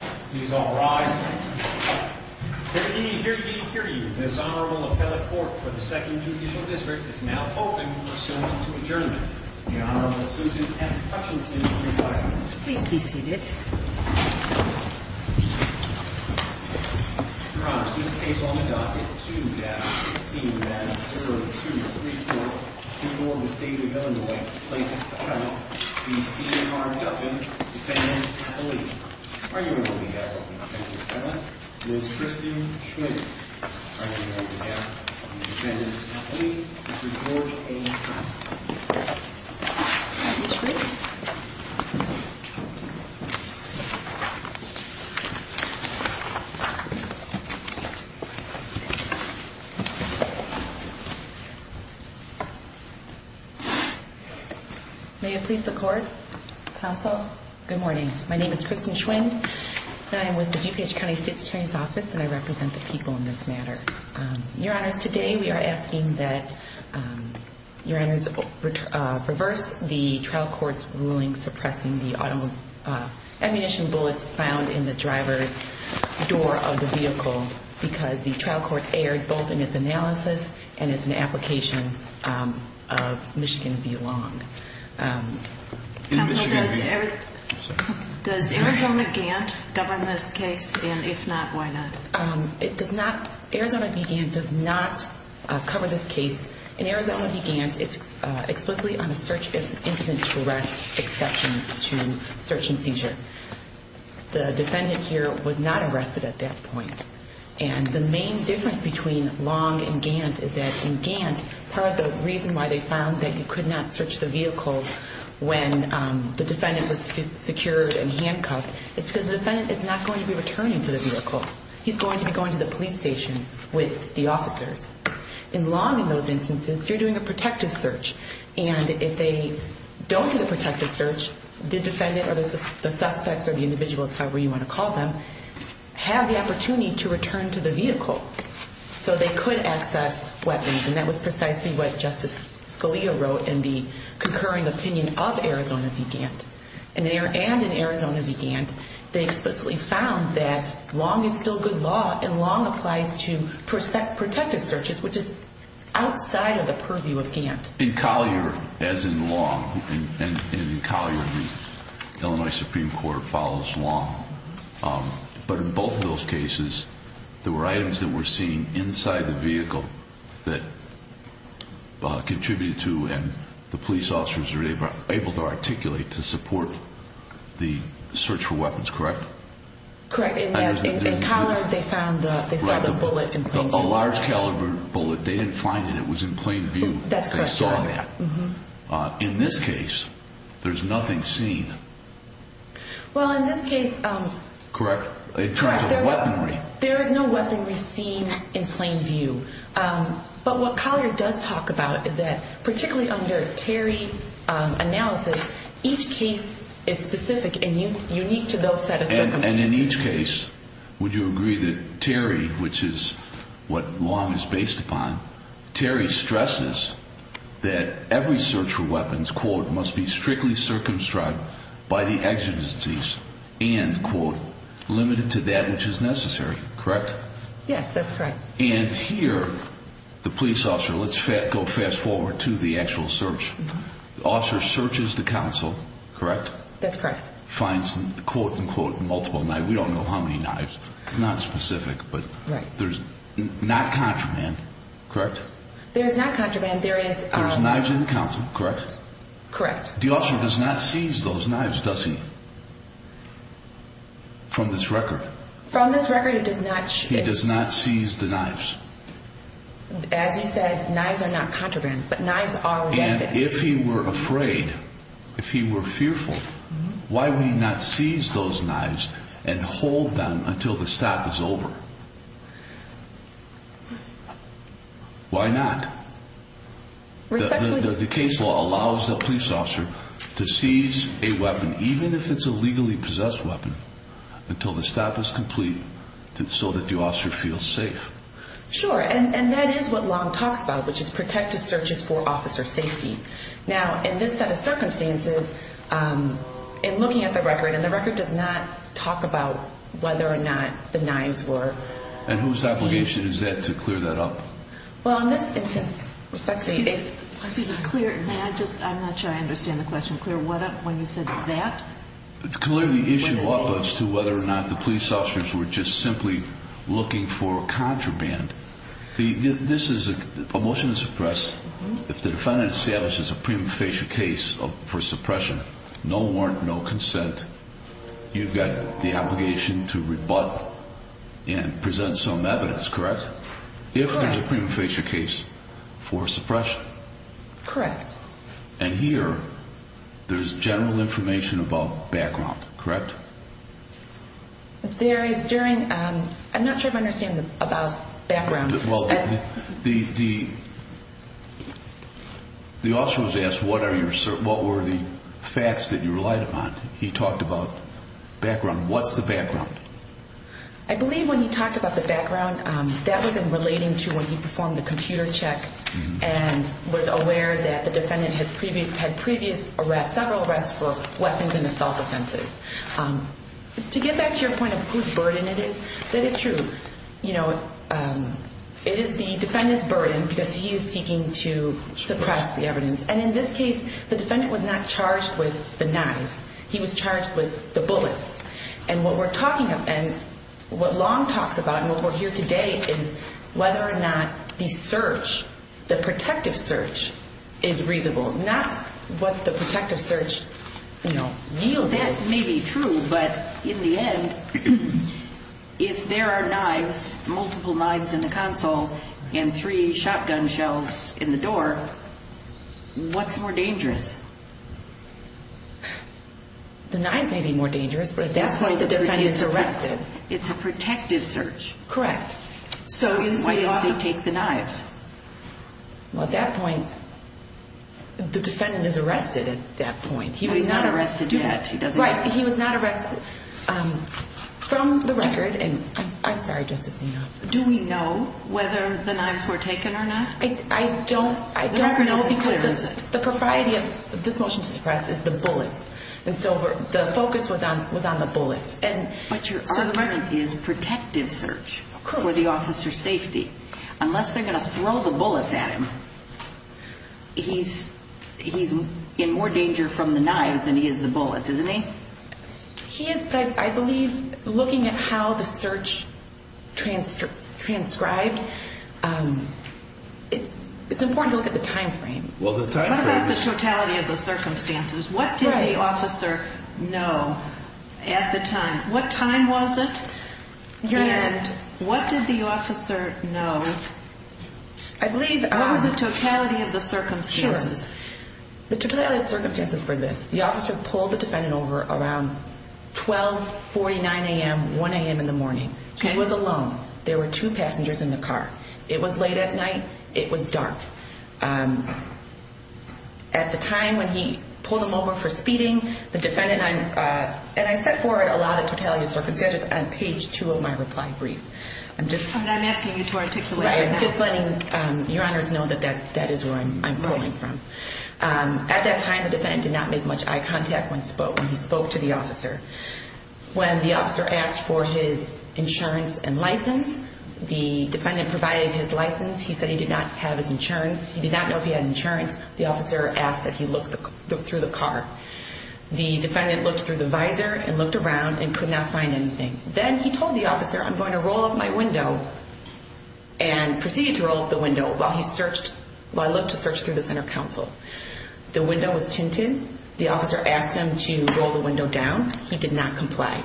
Please all rise. Hear ye, hear ye, hear ye. This Honorable Appellate Court for the 2nd Judicial District is now open for assent to adjournment. The Honorable Susan F. Hutchinson will resign. Please be seated. Your Honor, this case on the docket, 2-16-0234, before the State of Illinois, the plaintiff's attorney, the esteemed Honorable Duffin, defendant of the league. Are you ready, Your Honor? Thank you, Your Honor. Ms. Christine Schwinn. Are you ready, Your Honor? Defendant of the league, Mr. George A. Johnson. Thank you, Mr. Schwinn. May it please the court, counsel. Good morning. My name is Christine Schwinn, and I am with the DuPage County State's Attorney's Office, and I represent the people in this matter. Your Honors, today we are asking that Your Honors reverse the trial court's ruling suppressing the ammunition bullets found in the driver's door of the vehicle because the trial court erred both in its analysis and its application of Michigan v. Long. Counsel, does Arizona Gant govern this case? And if not, why not? It does not. Arizona v. Gant does not cover this case. In Arizona v. Gant, it's explicitly on a search incident arrest exception to search and seizure. The defendant here was not arrested at that point. And the main difference between Long and Gant is that in Gant, part of the reason why they found that you could not search the vehicle when the defendant was secured and handcuffed is because the defendant is not going to be returning to the vehicle. He's going to be going to the police station with the officers. In Long, in those instances, you're doing a protective search, and if they don't do the protective search, the defendant or the suspects or the individuals, however you want to call them, have the opportunity to return to the vehicle so they could access weapons. And that was precisely what Justice Scalia wrote in the concurring opinion of Arizona v. Gant. And in Arizona v. Gant, they explicitly found that Long is still good law, and Long applies to protective searches, which is outside of the purview of Gant. In Collier, as in Long, and in Collier, the Illinois Supreme Court follows Long. But in both of those cases, there were items that were seen inside the vehicle that contributed to and the police officers were able to articulate to support the search for weapons, correct? Correct. In Collier, they saw the bullet in plain view. A large caliber bullet. They didn't find it. It was in plain view. That's correct. They saw that. In this case, there's nothing seen. Well, in this case, there is no weaponry seen in plain view. But what Collier does talk about is that, particularly under Terry analysis, each case is specific and unique to those set of circumstances. And in each case, would you agree that Terry, which is what Long is based upon, Terry stresses that every search for weapons, quote, must be strictly circumscribed by the exigencies and, quote, limited to that which is necessary, correct? Yes, that's correct. And here, the police officer, let's go fast forward to the actual search. The officer searches the council, correct? That's correct. Finds, quote, unquote, multiple knives. We don't know how many knives. It's not specific, but there's not contraband, correct? There is not contraband. There is- There's knives in the council, correct? Correct. The officer does not seize those knives, does he, from this record? From this record, it does not- He does not seize the knives. As you said, knives are not contraband, but knives are weapons. And if he were afraid, if he were fearful, why would he not seize those knives and hold them until the stop is over? Why not? Respectfully- The case law allows the police officer to seize a weapon, even if it's a legally possessed weapon, until the stop is complete, so that the officer feels safe. Sure, and that is what Long talks about, which is protective searches for officer safety. Now, in this set of circumstances, in looking at the record, and the record does not talk about whether or not the knives were seized. And whose obligation is that to clear that up? Well, in this instance, respectfully- Excuse me. May I just- I'm not sure I understand the question. Clear what up when you said that? It's clear the issue up as to whether or not the police officers were just simply looking for contraband. This is a motion to suppress. If the defendant establishes a prima facie case for suppression, no warrant, no consent, you've got the obligation to rebut and present some evidence, correct? Correct. If it's a prima facie case for suppression. Correct. And here, there's general information about background, correct? There is during- I'm not sure I understand about background. Well, the officer was asked what were the facts that you relied upon. He talked about background. What's the background? I believe when he talked about the background, that was in relating to when he performed the computer check and was aware that the defendant had previous arrests, several arrests for weapons and assault offenses. To get back to your point of whose burden it is, that is true. It is the defendant's burden because he is seeking to suppress the evidence. And in this case, the defendant was not charged with the knives. He was charged with the bullets. And what we're talking about and what Long talks about and what we're here today is whether or not the search, the protective search, is reasonable. Not what the protective search, you know, yielded. That may be true, but in the end, if there are knives, multiple knives in the console and three shotgun shells in the door, what's more dangerous? The knives may be more dangerous, but at that point, the defendant's arrested. It's a protective search. Correct. So why did they take the knives? Well, at that point, the defendant is arrested at that point. He was not arrested yet. Right, he was not arrested. From the record, and I'm sorry, Justice Enoff. Do we know whether the knives were taken or not? I don't know because the propriety of this motion to suppress is the bullets. And so the focus was on the bullets. But your argument is protective search for the officer's safety. Unless they're going to throw the bullets at him, he's in more danger from the knives than he is the bullets, isn't he? He is, but I believe looking at how the search transcribed, it's important to look at the time frame. What about the totality of the circumstances? What did the officer know at the time? What time was it? And what did the officer know over the totality of the circumstances? The totality of the circumstances were this. The officer pulled the defendant over around 12, 49 a.m., 1 a.m. in the morning. He was alone. There were two passengers in the car. It was late at night. It was dark. At the time when he pulled him over for speeding, the defendant and I, I set forward a lot of totality of circumstances on page two of my reply brief. I'm asking you to articulate. I'm just letting your honors know that that is where I'm pulling from. At that time, the defendant did not make much eye contact when he spoke to the officer. When the officer asked for his insurance and license, the defendant provided his license. He said he did not have his insurance. He did not know if he had insurance. The officer asked that he look through the car. The defendant looked through the visor and looked around and could not find anything. Then he told the officer, I'm going to roll up my window and proceeded to roll up the window while he searched, while I looked to search through the center console. The window was tinted. The officer asked him to roll the window down. He did not comply.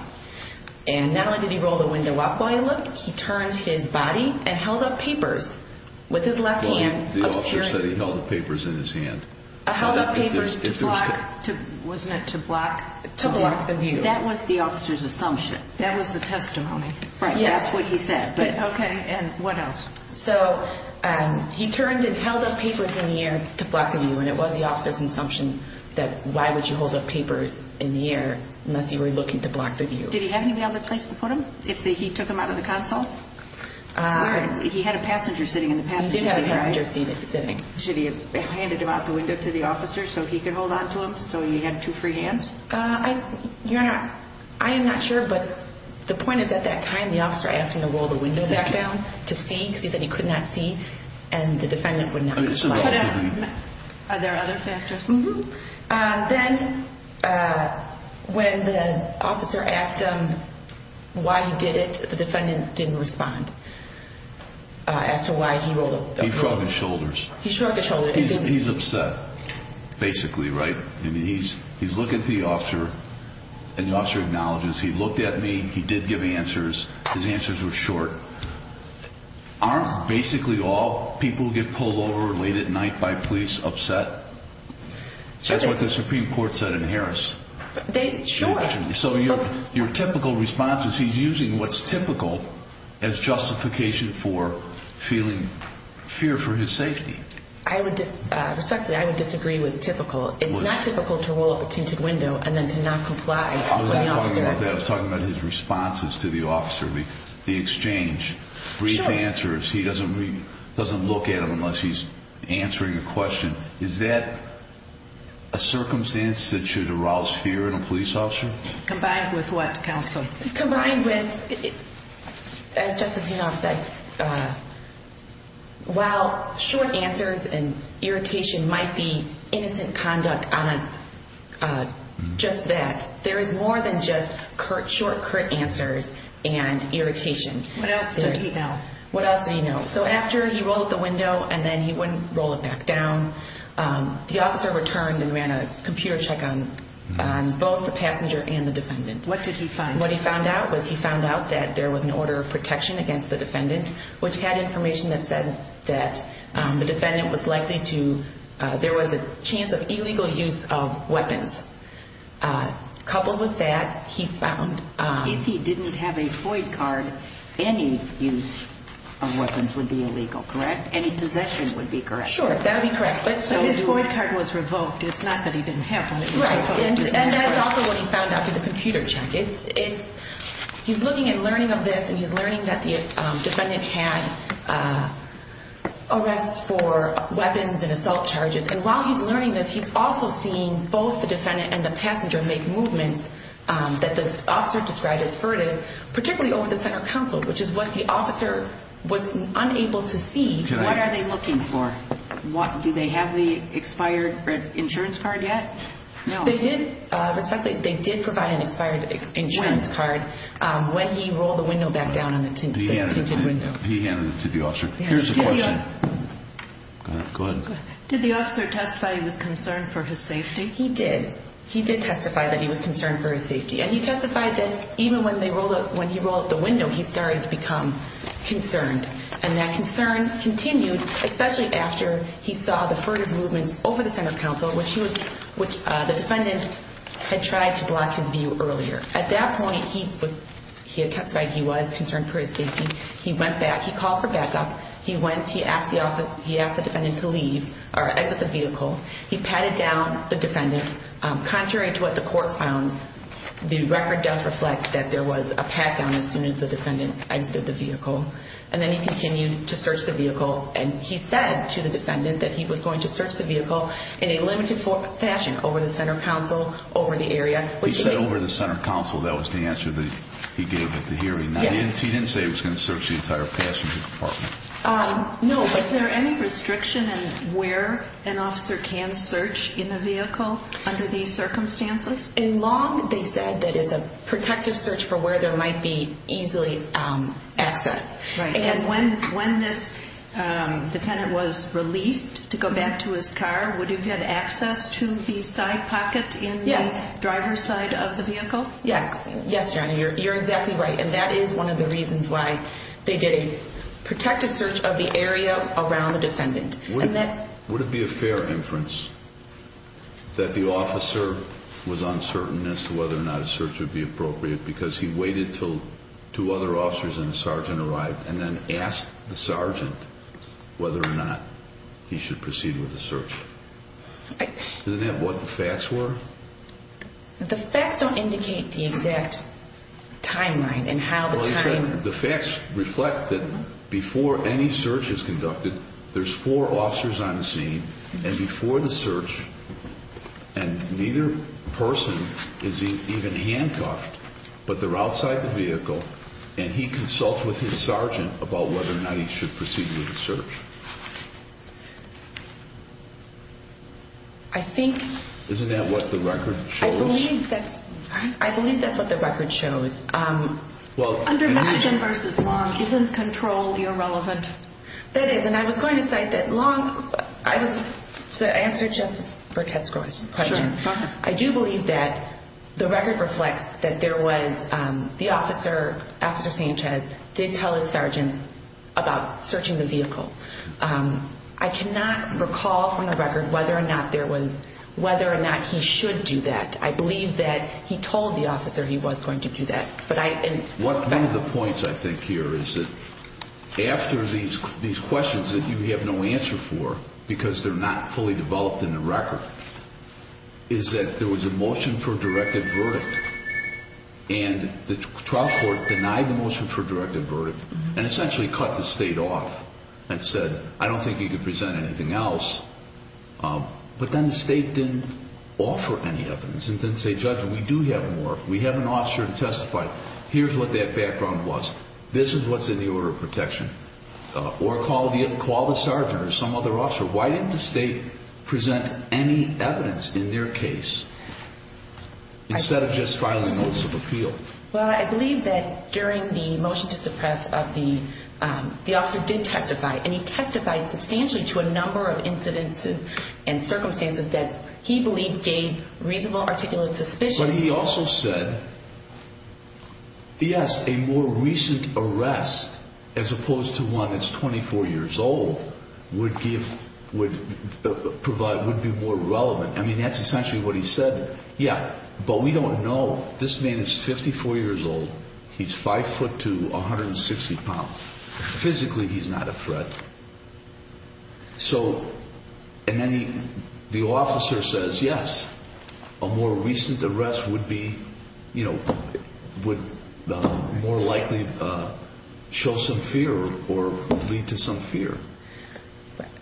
And not only did he roll the window up while he looked, he turned his body and held up papers with his left hand. The officer said he held the papers in his hand. He held up papers to block the view. That was the officer's assumption. That was the testimony. That's what he said. Okay, and what else? So he turned and held up papers in the air to block the view, and it was the officer's assumption that why would you hold up papers in the air unless you were looking to block the view. Did he have any other place to put them if he took them out of the console? He had a passenger sitting in the passenger seat. He did have a passenger sitting. Should he have handed him out the window to the officer so he could hold on to him so he had two free hands? Your Honor, I am not sure, but the point is at that time the officer asked him to roll the window back down to see because he said he could not see and the defendant would not comply. Are there other factors? Then when the officer asked him why he did it, the defendant didn't respond as to why he rolled up the window. He shrugged his shoulders. He shrugged his shoulders. He's upset, basically, right? He's looking at the officer, and the officer acknowledges, he looked at me, he did give answers, his answers were short. Aren't basically all people who get pulled over late at night by police upset? That's what the Supreme Court said in Harris. Sure. So your typical response is he's using what's typical as justification for feeling fear for his safety. Respectfully, I would disagree with typical. It's not typical to roll up a tinted window and then to not comply with the officer. I was talking about his responses to the officer, the exchange, brief answers. He doesn't look at him unless he's answering a question. Is that a circumstance that should arouse fear in a police officer? Combined with what, counsel? Combined with, as Justice Zinoff said, while short answers and irritation might be innocent conduct, honest, just that, there is more than just short, curt answers and irritation. What else did he know? What else did he know? So after he rolled up the window and then he wouldn't roll it back down, the officer returned and ran a computer check on both the passenger and the defendant. What did he find? What he found out was he found out that there was an order of protection against the defendant, which had information that said that the defendant was likely to ‑‑ there was a chance of illegal use of weapons. Coupled with that, he found ‑‑ If he didn't have a FOID card, any use of weapons would be illegal, correct? Any possession would be correct. Sure, that would be correct. So his FOID card was revoked. It's not that he didn't have one. And that's also what he found out through the computer check. He's looking and learning of this, and he's learning that the defendant had arrests for weapons and assault charges. And while he's learning this, he's also seeing both the defendant and the passenger make movements that the officer described as furtive, particularly over the center console, which is what the officer was unable to see. What are they looking for? Do they have the expired insurance card yet? No. Respectfully, they did provide an expired insurance card when he rolled the window back down on the tinted window. He handed it to the officer. Here's the question. Go ahead. Did the officer testify he was concerned for his safety? He did. He did testify that he was concerned for his safety. And he testified that even when he rolled up the window, he started to become concerned. And that concern continued, especially after he saw the furtive movements over the center console, which the defendant had tried to block his view earlier. At that point, he had testified he was concerned for his safety. He went back. He called for backup. He asked the defendant to leave or exit the vehicle. He patted down the defendant. Contrary to what the court found, the record does reflect that there was a pat down as soon as the defendant exited the vehicle. And then he continued to search the vehicle. And he said to the defendant that he was going to search the vehicle in a limited fashion over the center console, over the area. He said over the center console. That was the answer that he gave at the hearing. He didn't say he was going to search the entire passenger compartment. No. Is there any restriction in where an officer can search in a vehicle under these circumstances? In Long, they said that it's a protective search for where there might be easily access. And when this defendant was released to go back to his car, would he have had access to the side pocket in the driver's side of the vehicle? Yes. Yes, your Honor. You're exactly right. And that is one of the reasons why they did a protective search of the area around the defendant. Would it be a fair inference that the officer was uncertain as to whether or not a search would be appropriate because he waited until two other officers and a sergeant arrived and then asked the sergeant whether or not he should proceed with the search? Isn't that what the facts were? The facts don't indicate the exact timeline and how the time. The facts reflect that before any search is conducted, there's four officers on the scene. And before the search, and neither person is even handcuffed, but they're outside the vehicle, and he consults with his sergeant about whether or not he should proceed with the search. Isn't that what the record shows? I believe that's what the record shows. Under Michigan v. Long, isn't control irrelevant? That is. And I was going to say that Long, to answer Justice Burkett's question, I do believe that the record reflects that there was the officer, Officer Sanchez, did tell his sergeant about searching the vehicle. I cannot recall from the record whether or not he should do that. I believe that he told the officer he was going to do that. One of the points I think here is that after these questions that you have no answer for, because they're not fully developed in the record, is that there was a motion for a directive verdict. And the trial court denied the motion for a directive verdict and essentially cut the State off and said, I don't think you can present anything else. But then the State didn't offer any evidence and didn't say, Judge, we do have more. We have an officer to testify. Here's what that background was. This is what's in the order of protection. Or call the sergeant or some other officer. Why didn't the State present any evidence in their case instead of just filing a notice of appeal? Well, I believe that during the motion to suppress, the officer did testify, and he testified substantially to a number of incidences and circumstances that he believed gave reasonable articulate suspicion. But he also said, yes, a more recent arrest, as opposed to one that's 24 years old, would be more relevant. I mean, that's essentially what he said. Yeah, but we don't know. This man is 54 years old. He's 5'2", 160 pounds. Physically, he's not a threat. So, and then the officer says, yes, a more recent arrest would be, you know, would more likely show some fear or lead to some fear.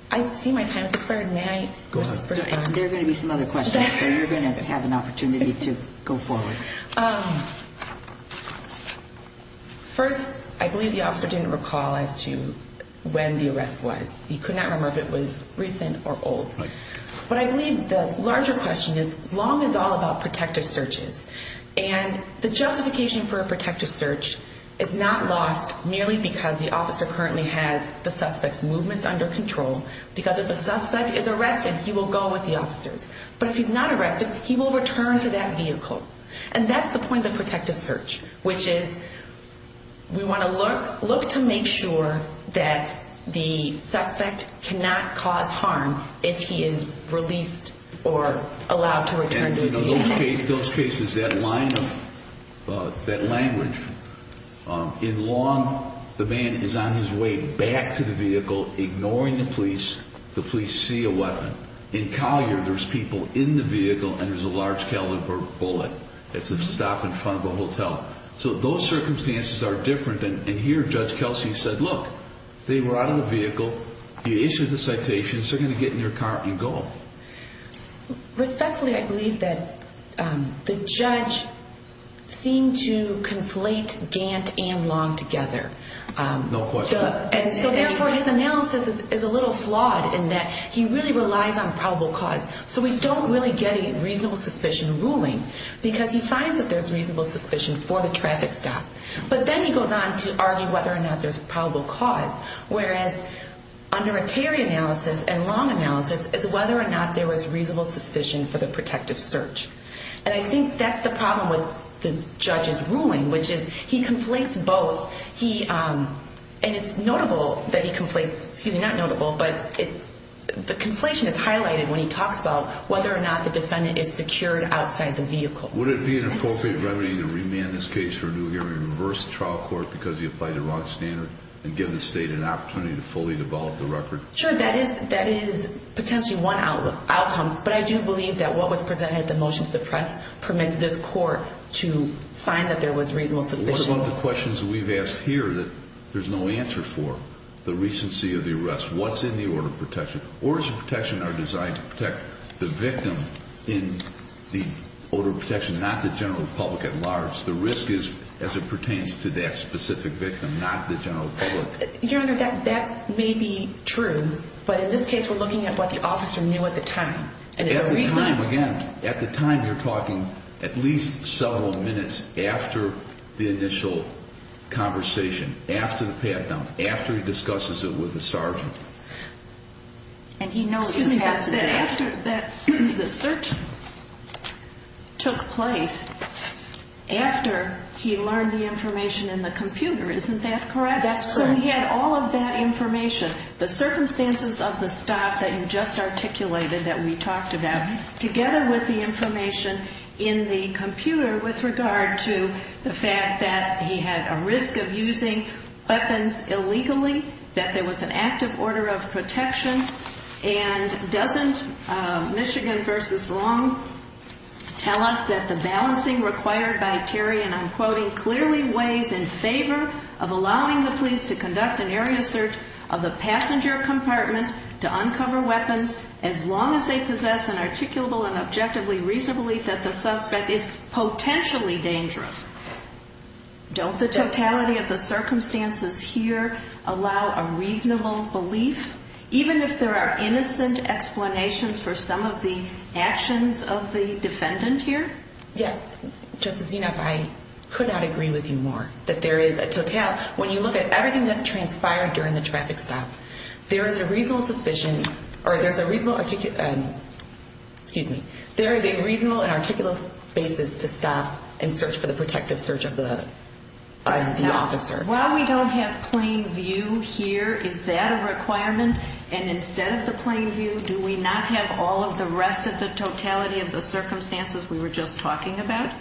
I see my time is expired. May I? Go ahead. There are going to be some other questions, but you're going to have an opportunity to go forward. First, I believe the officer didn't recall as to when the arrest was. He could not remember if it was recent or old. But I believe the larger question is, Long is all about protective searches, and the justification for a protective search is not lost merely because the officer currently has the suspect's movements under control, because if the suspect is arrested, he will go with the officers. But if he's not arrested, he will return to that vehicle. And that's the point of the protective search, which is we want to look to make sure that the suspect cannot cause harm if he is released or allowed to return to his unit. And in those cases, that line of, that language, in Long, the man is on his way back to the vehicle, ignoring the police. The police see a weapon. In Collier, there's people in the vehicle, and there's a large caliber bullet. It's a stop in front of a hotel. So those circumstances are different. And here, Judge Kelsey said, look, they were out of the vehicle. He issued the citation. They're going to get in their car and go. Respectfully, I believe that the judge seemed to conflate Gant and Long together. No question. And so, therefore, his analysis is a little flawed in that he really relies on probable cause. So we don't really get a reasonable suspicion ruling because he finds that there's reasonable suspicion for the traffic stop. But then he goes on to argue whether or not there's probable cause, whereas under a Terry analysis and Long analysis, it's whether or not there was reasonable suspicion for the protective search. And I think that's the problem with the judge's ruling, which is he conflates both. And it's notable that he conflates, excuse me, not notable, but the conflation is highlighted when he talks about whether or not the defendant is secured outside the vehicle. Would it be an appropriate remedy to remand this case for a new hearing and reverse the trial court because he applied the wrong standard and give the state an opportunity to fully devolve the record? Sure, that is potentially one outcome. But I do believe that what was presented at the motion to suppress permits this court to find that there was reasonable suspicion. What about the questions that we've asked here that there's no answer for? The recency of the arrest. What's in the order of protection? Orders of protection are designed to protect the victim in the order of protection, not the general public at large. The risk is as it pertains to that specific victim, not the general public. Your Honor, that may be true, but in this case we're looking at what the officer knew at the time. At the time, again, at the time you're talking at least several minutes after the initial conversation, after the pat-down, after he discusses it with the sergeant. And he knows that after the search took place, after he learned the information in the computer, isn't that correct? That's correct. So he had all of that information, the circumstances of the stop that you just articulated that we talked about, together with the information in the computer with regard to the fact that he had a risk of using weapons illegally, that there was an active order of protection. And doesn't Michigan v. Long tell us that the balancing required by Terry, and I'm quoting, clearly weighs in favor of allowing the police to conduct an area search of the passenger compartment to uncover weapons as long as they possess an articulable and objectively reasonable belief that the suspect is potentially dangerous. Don't the totality of the circumstances here allow a reasonable belief, even if there are innocent explanations for some of the actions of the defendant here? Yeah. Justice Zinoff, I could not agree with you more, that there is a total. When you look at everything that transpired during the traffic stop, there is a reasonable suspicion, or there's a reasonable, excuse me, there is a reasonable and articulable basis to stop and search for the protective search of the officer. While we don't have plain view here, is that a requirement? And instead of the plain view, do we not have all of the rest of the totality of the circumstances we were just talking about?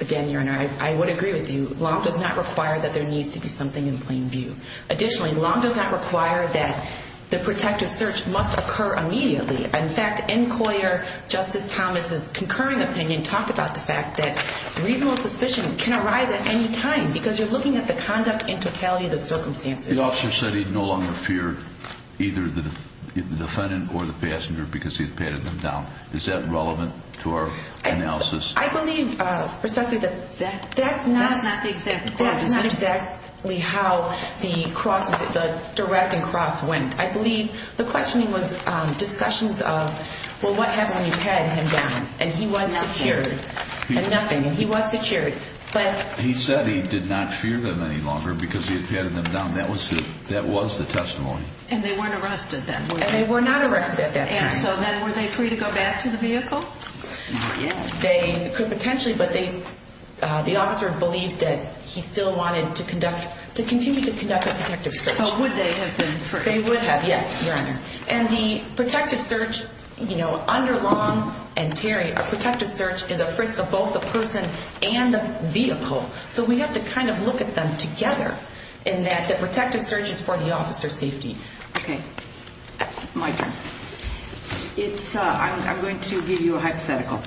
Again, Your Honor, I would agree with you. Long does not require that there needs to be something in plain view. Additionally, long does not require that the protective search must occur immediately. In fact, in Coyer, Justice Thomas' concurring opinion talked about the fact that reasonable suspicion can arise at any time because you're looking at the conduct in totality of the circumstances. The officer said he no longer feared either the defendant or the passenger because he had patted them down. Is that relevant to our analysis? I believe, Respectfully, that that's not exactly how the cross, the directing cross went. I believe the questioning was discussions of, well, what happened when you patted him down? And he was secured. And nothing. And he was secured. He said he did not fear them any longer because he had patted them down. That was the testimony. And they weren't arrested then. And so then were they free to go back to the vehicle? They could potentially, but the officer believed that he still wanted to conduct, to continue to conduct a protective search. So would they have been free? They would have, yes, Your Honor. And the protective search, you know, under long and Terry, a protective search is a frisk of both the person and the vehicle. So we have to kind of look at them together in that the protective search is for the officer's safety. Okay. My turn. It's, I'm going to give you a hypothetical.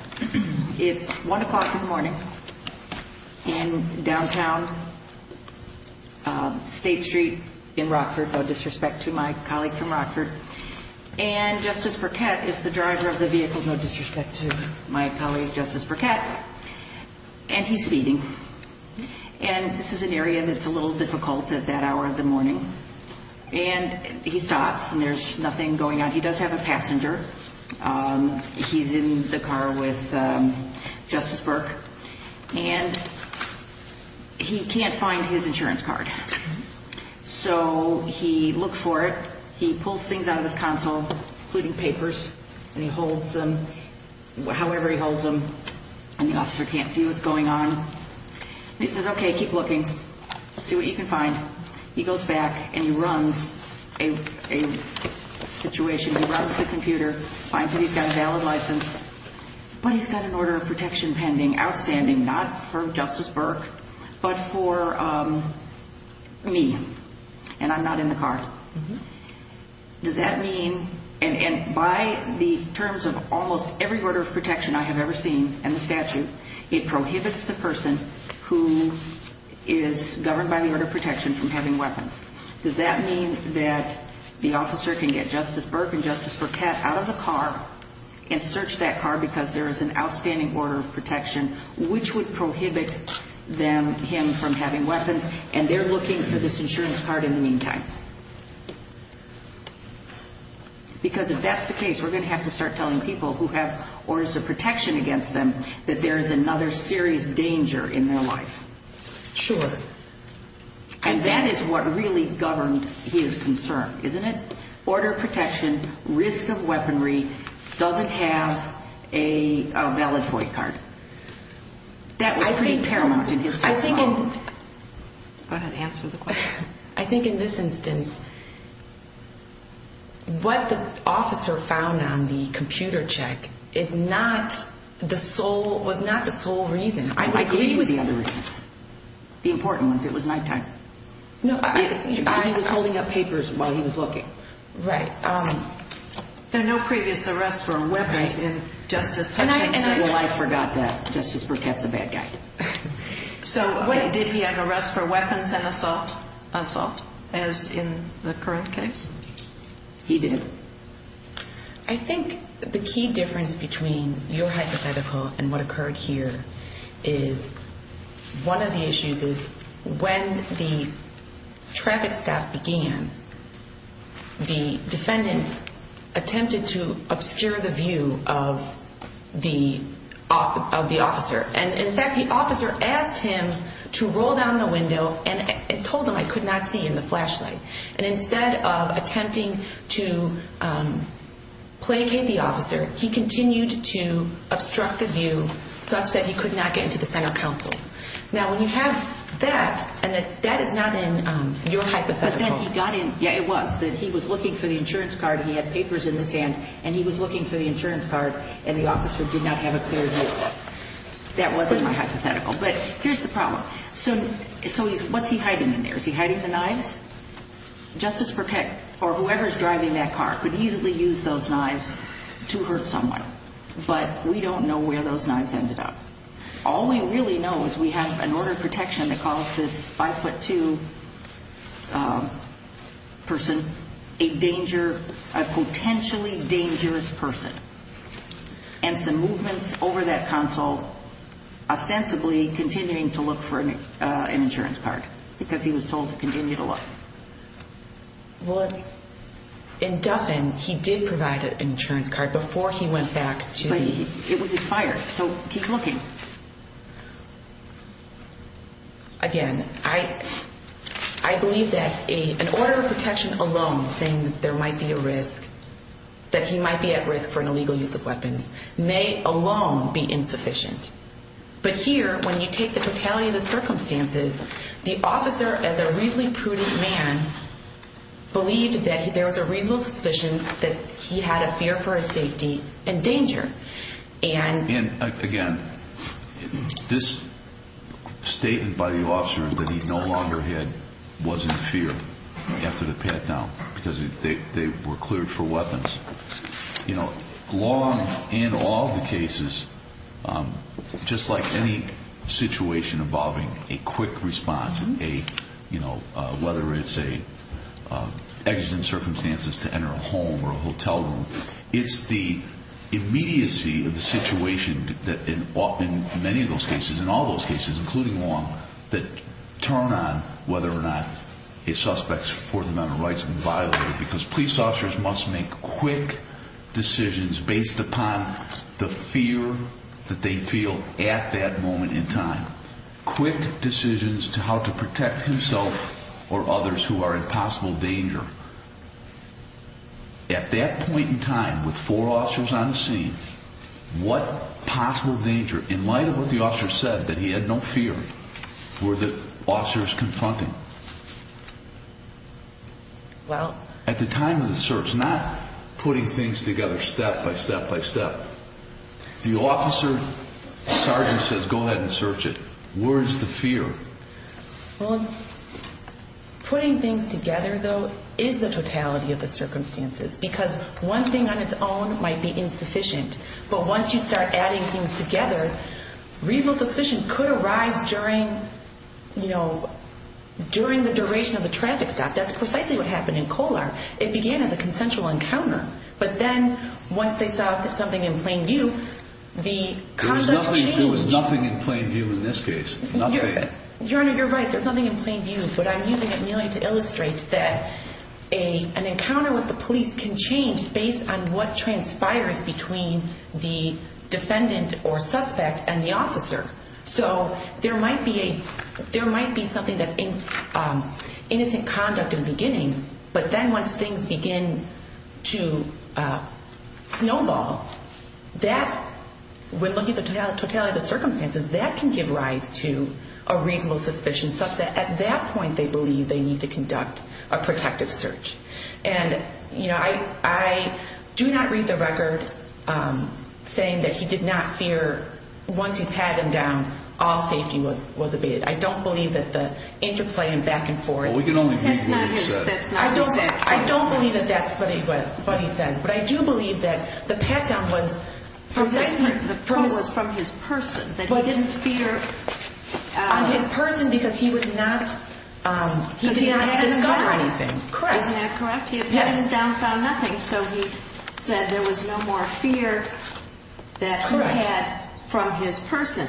It's 1 o'clock in the morning in downtown State Street in Rockford, no disrespect to my colleague from Rockford, and Justice Burkett is the driver of the vehicle, no disrespect to my colleague Justice Burkett, and he's speeding. And this is an area that's a little difficult at that hour of the morning. And he stops and there's nothing going on. He does have a passenger. He's in the car with Justice Burke. And he can't find his insurance card. So he looks for it. He pulls things out of his console, including papers, and he holds them, however he holds them, and the officer can't see what's going on. And he says, okay, keep looking. Let's see what you can find. He goes back and he runs a situation. He runs the computer, finds that he's got a valid license, but he's got an order of protection pending, outstanding, not for Justice Burke but for me, and I'm not in the car. Does that mean, and by the terms of almost every order of protection I have ever seen in the statute, it prohibits the person who is governed by the order of protection from having weapons? Does that mean that the officer can get Justice Burke and Justice Burkett out of the car and search that car because there is an outstanding order of protection, which would prohibit him from having weapons, and they're looking for this insurance card in the meantime? Because if that's the case, we're going to have to start telling people who have orders of protection against them that there is another serious danger in their life. Sure. And that is what really governed his concern, isn't it? Order of protection, risk of weaponry, doesn't have a valid FOIA card. That was pretty paramount in his testimony. Go ahead and answer the question. I think in this instance, what the officer found on the computer check was not the sole reason. I agree with the other reasons, the important ones. It was nighttime. I was holding up papers while he was looking. Right. There are no previous arrests for weapons in Justice Hutchinson's case. Well, I forgot that. Justice Burkett's a bad guy. So did he have arrests for weapons and assault, as in the current case? He didn't. I think the key difference between your hypothetical and what occurred here is one of the issues is when the traffic stop began, the defendant attempted to obscure the view of the officer. And, in fact, the officer asked him to roll down the window and told him I could not see in the flashlight. And instead of attempting to placate the officer, he continued to obstruct the view such that he could not get into the Senate Council. Now, when you have that, and that is not in your hypothetical. But then he got in. Yeah, it was. He was looking for the insurance card. He had papers in his hand, and he was looking for the insurance card, and the officer did not have a clear view of it. That wasn't my hypothetical. But here's the problem. So what's he hiding in there? Is he hiding the knives? Justice Burkett, or whoever is driving that car, could easily use those knives to hurt someone. But we don't know where those knives ended up. All we really know is we have an order of protection that calls this 5'2 person a potentially dangerous person. And some movements over that council ostensibly continuing to look for an insurance card because he was told to continue to look. Well, in Duffin, he did provide an insurance card before he went back to the— But it was expired, so keep looking. Again, I believe that an order of protection alone, saying that there might be a risk, that he might be at risk for an illegal use of weapons, may alone be insufficient. But here, when you take the totality of the circumstances, the officer, as a reasonably prudent man, believed that there was a reasonable suspicion that he had a fear for his safety and danger. And, again, this statement by the officer that he no longer had was in fear after the pat-down because they were cleared for weapons. Long in all the cases, just like any situation involving a quick response, whether it's exiting circumstances to enter a home or a hotel room, it's the immediacy of the situation in many of those cases, in all those cases, including Long, that turn on whether or not a suspect's Fourth Amendment rights have been violated because police officers must make quick decisions based upon the fear that they feel at that moment in time. Quick decisions to how to protect himself or others who are in possible danger. At that point in time, with four officers on the scene, what possible danger, in light of what the officer said, that he had no fear, were the officers confronting? Well... At the time of the search, not putting things together step by step by step. The officer sergeant says, go ahead and search it. Where is the fear? Well, putting things together, though, is the totality of the circumstances because one thing on its own might be insufficient, but once you start adding things together, reasonable suspicion could arise during the duration of the traffic stop. That's precisely what happened in Colar. It began as a consensual encounter, but then once they saw something in plain view, the conduct changed. There was nothing in plain view in this case. Your Honor, you're right, there's nothing in plain view, but I'm using it merely to illustrate that an encounter with the police can change based on what transpires between the defendant or suspect and the officer. So there might be something that's innocent conduct in the beginning, but then once things begin to snowball, that, when looking at the totality of the circumstances, that can give rise to a reasonable suspicion such that, at that point, they believe they need to conduct a protective search. And, you know, I do not read the record saying that he did not fear, once you pat him down, all safety was abated. I don't believe that the interplay and back and forth. Well, we can only believe what he said. That's not what he said. I don't believe that that's what he said, but I do believe that the pat down was from this person. The pat down, the probe was from his person, that he didn't fear. On his person because he was not, he did not discover anything. Correct. Isn't that correct? Yes. He had patted him down and found nothing, so he said there was no more fear that he had from his person.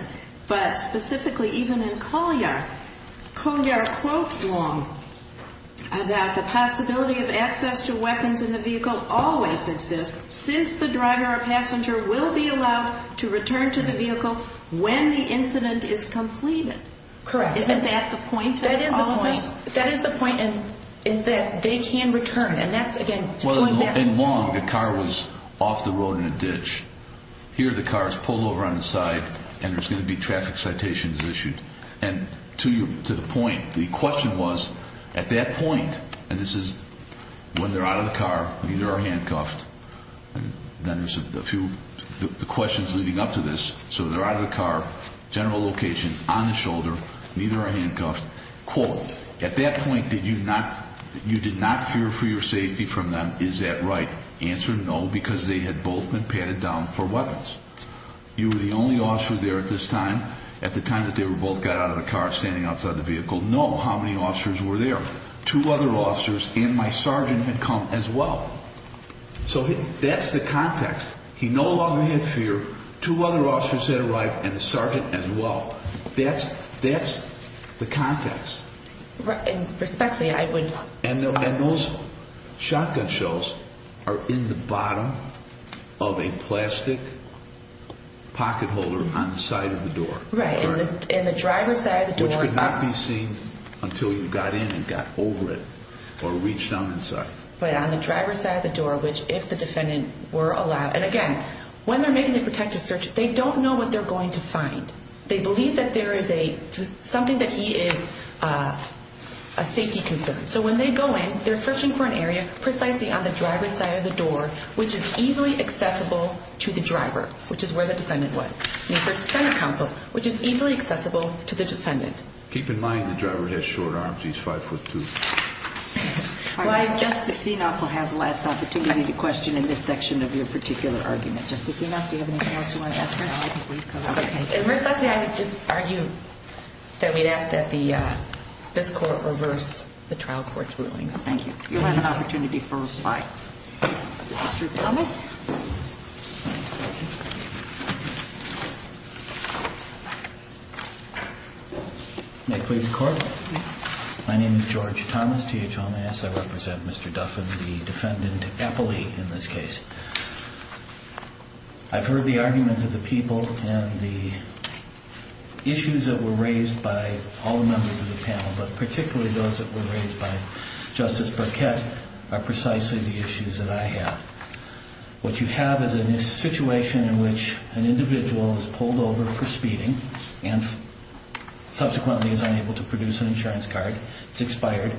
But specifically, even in Colyar, Colyar quotes Long that the possibility of access to weapons in the vehicle since the driver or passenger will be allowed to return to the vehicle when the incident is completed. Correct. Isn't that the point? That is the point. That is the point in that they can return, and that's, again, going back and forth. Well, in Long, the car was off the road in a ditch. Here, the car is pulled over on the side, and there's going to be traffic citations issued. And to the point, the question was, at that point, and this is when they're out of the car, neither are handcuffed, and then there's a few questions leading up to this. So they're out of the car, general location, on the shoulder, neither are handcuffed. Quote, at that point, did you not, you did not fear for your safety from them. Is that right? Answer, no, because they had both been patted down for weapons. You were the only officer there at this time. At the time that they both got out of the car standing outside the vehicle, no. How many officers were there? Two other officers, and my sergeant had come as well. So that's the context. He no longer had fear. Two other officers had arrived, and the sergeant as well. That's the context. Respectfully, I would argue. And those shotgun shells are in the bottom of a plastic pocket holder on the side of the door. Right, in the driver's side of the door. Which could not be seen until you got in and got over it or reached down inside. But on the driver's side of the door, which if the defendant were allowed. And again, when they're making the protective search, they don't know what they're going to find. They believe that there is something that he is a safety concern. So when they go in, they're searching for an area precisely on the driver's side of the door, which is easily accessible to the driver, which is where the defendant was. Which is easily accessible to the defendant. Keep in mind the driver has short arms. He's 5'2". Justice Sienoff will have the last opportunity to question in this section of your particular argument. Justice Sienoff, do you have anything else you want to ask her? Respectfully, I would just argue that we'd ask that this court reverse the trial court's rulings. Thank you. You'll have an opportunity for reply. Mr. Thomas? May it please the Court? My name is George Thomas, T-H-O-M-S. I represent Mr. Duffin, the defendant appellee in this case. I've heard the arguments of the people and the issues that were raised by all the members of the panel, but particularly those that were raised by Justice Burkett are precisely the issues that I have. What you have is a situation in which an individual is pulled over for speeding and subsequently is unable to produce an insurance card. It's expired.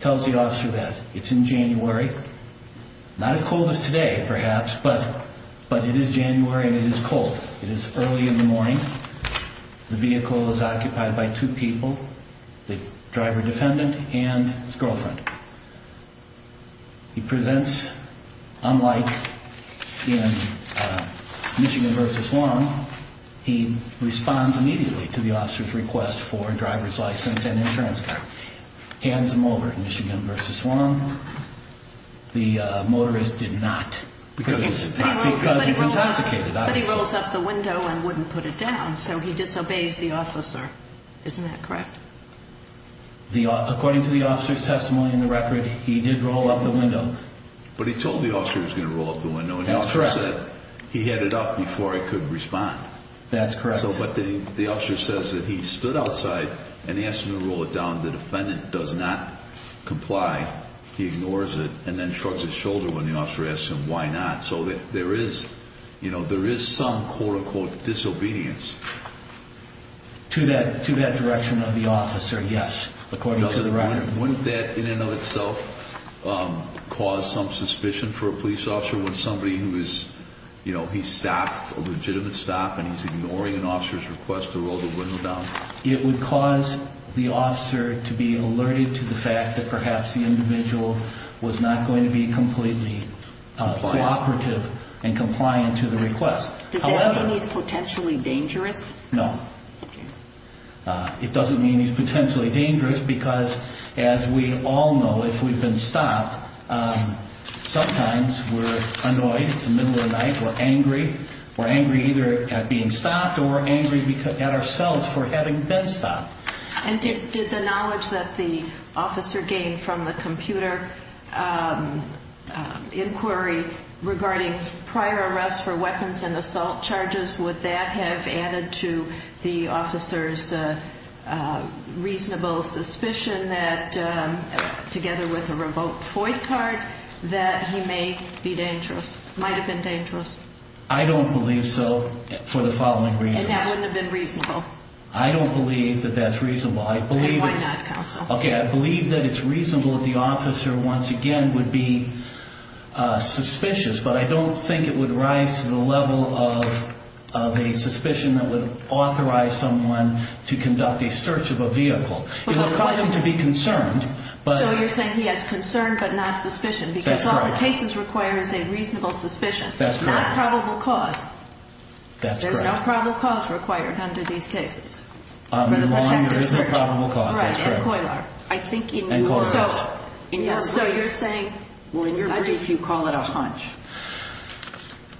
Tells the officer that it's in January. Not as cold as today, perhaps, but it is January and it is cold. It is early in the morning. The vehicle is occupied by two people, the driver-defendant and his girlfriend. He presents, unlike in Michigan v. Wong, he responds immediately to the officer's request for a driver's license and insurance card. Hands him over at Michigan v. Wong. The motorist did not because he's intoxicated, obviously. He rolls up the window and wouldn't put it down, so he disobeys the officer. Isn't that correct? According to the officer's testimony in the record, he did roll up the window. But he told the officer he was going to roll up the window. That's correct. He had it up before he could respond. That's correct. But the officer says that he stood outside and asked him to roll it down. The defendant does not comply. He ignores it and then shrugs his shoulder when the officer asks him why not. So there is some, quote-unquote, disobedience. To that direction of the officer, yes, according to the record. Wouldn't that, in and of itself, cause some suspicion for a police officer when somebody who is, you know, he stopped, a legitimate stop, and he's ignoring an officer's request to roll the window down? It would cause the officer to be alerted to the fact that perhaps the individual was not going to be completely cooperative and compliant to the request. Does that mean he's potentially dangerous? No. It doesn't mean he's potentially dangerous because, as we all know, if we've been stopped, sometimes we're annoyed, it's the middle of the night, we're angry, we're angry either at being stopped or we're angry at ourselves for having been stopped. And did the knowledge that the officer gained from the computer inquiry regarding prior arrests for weapons and assault charges, would that have added to the officer's reasonable suspicion that, together with a revoked FOIA card, that he may be dangerous, might have been dangerous? I don't believe so for the following reasons. And that wouldn't have been reasonable? I don't believe that that's reasonable. Why not, counsel? Okay, I believe that it's reasonable that the officer, once again, would be suspicious, but I don't think it would rise to the level of a suspicion that would authorize someone to conduct a search of a vehicle. It would cause him to be concerned. So you're saying he has concern but not suspicion because all the cases require is a reasonable suspicion, not probable cause. That's correct. There is no probable cause required under these cases for the protected search. There is no probable cause, that's correct. Right, and COILAR. And COILAR. So you're saying you call it a hunch.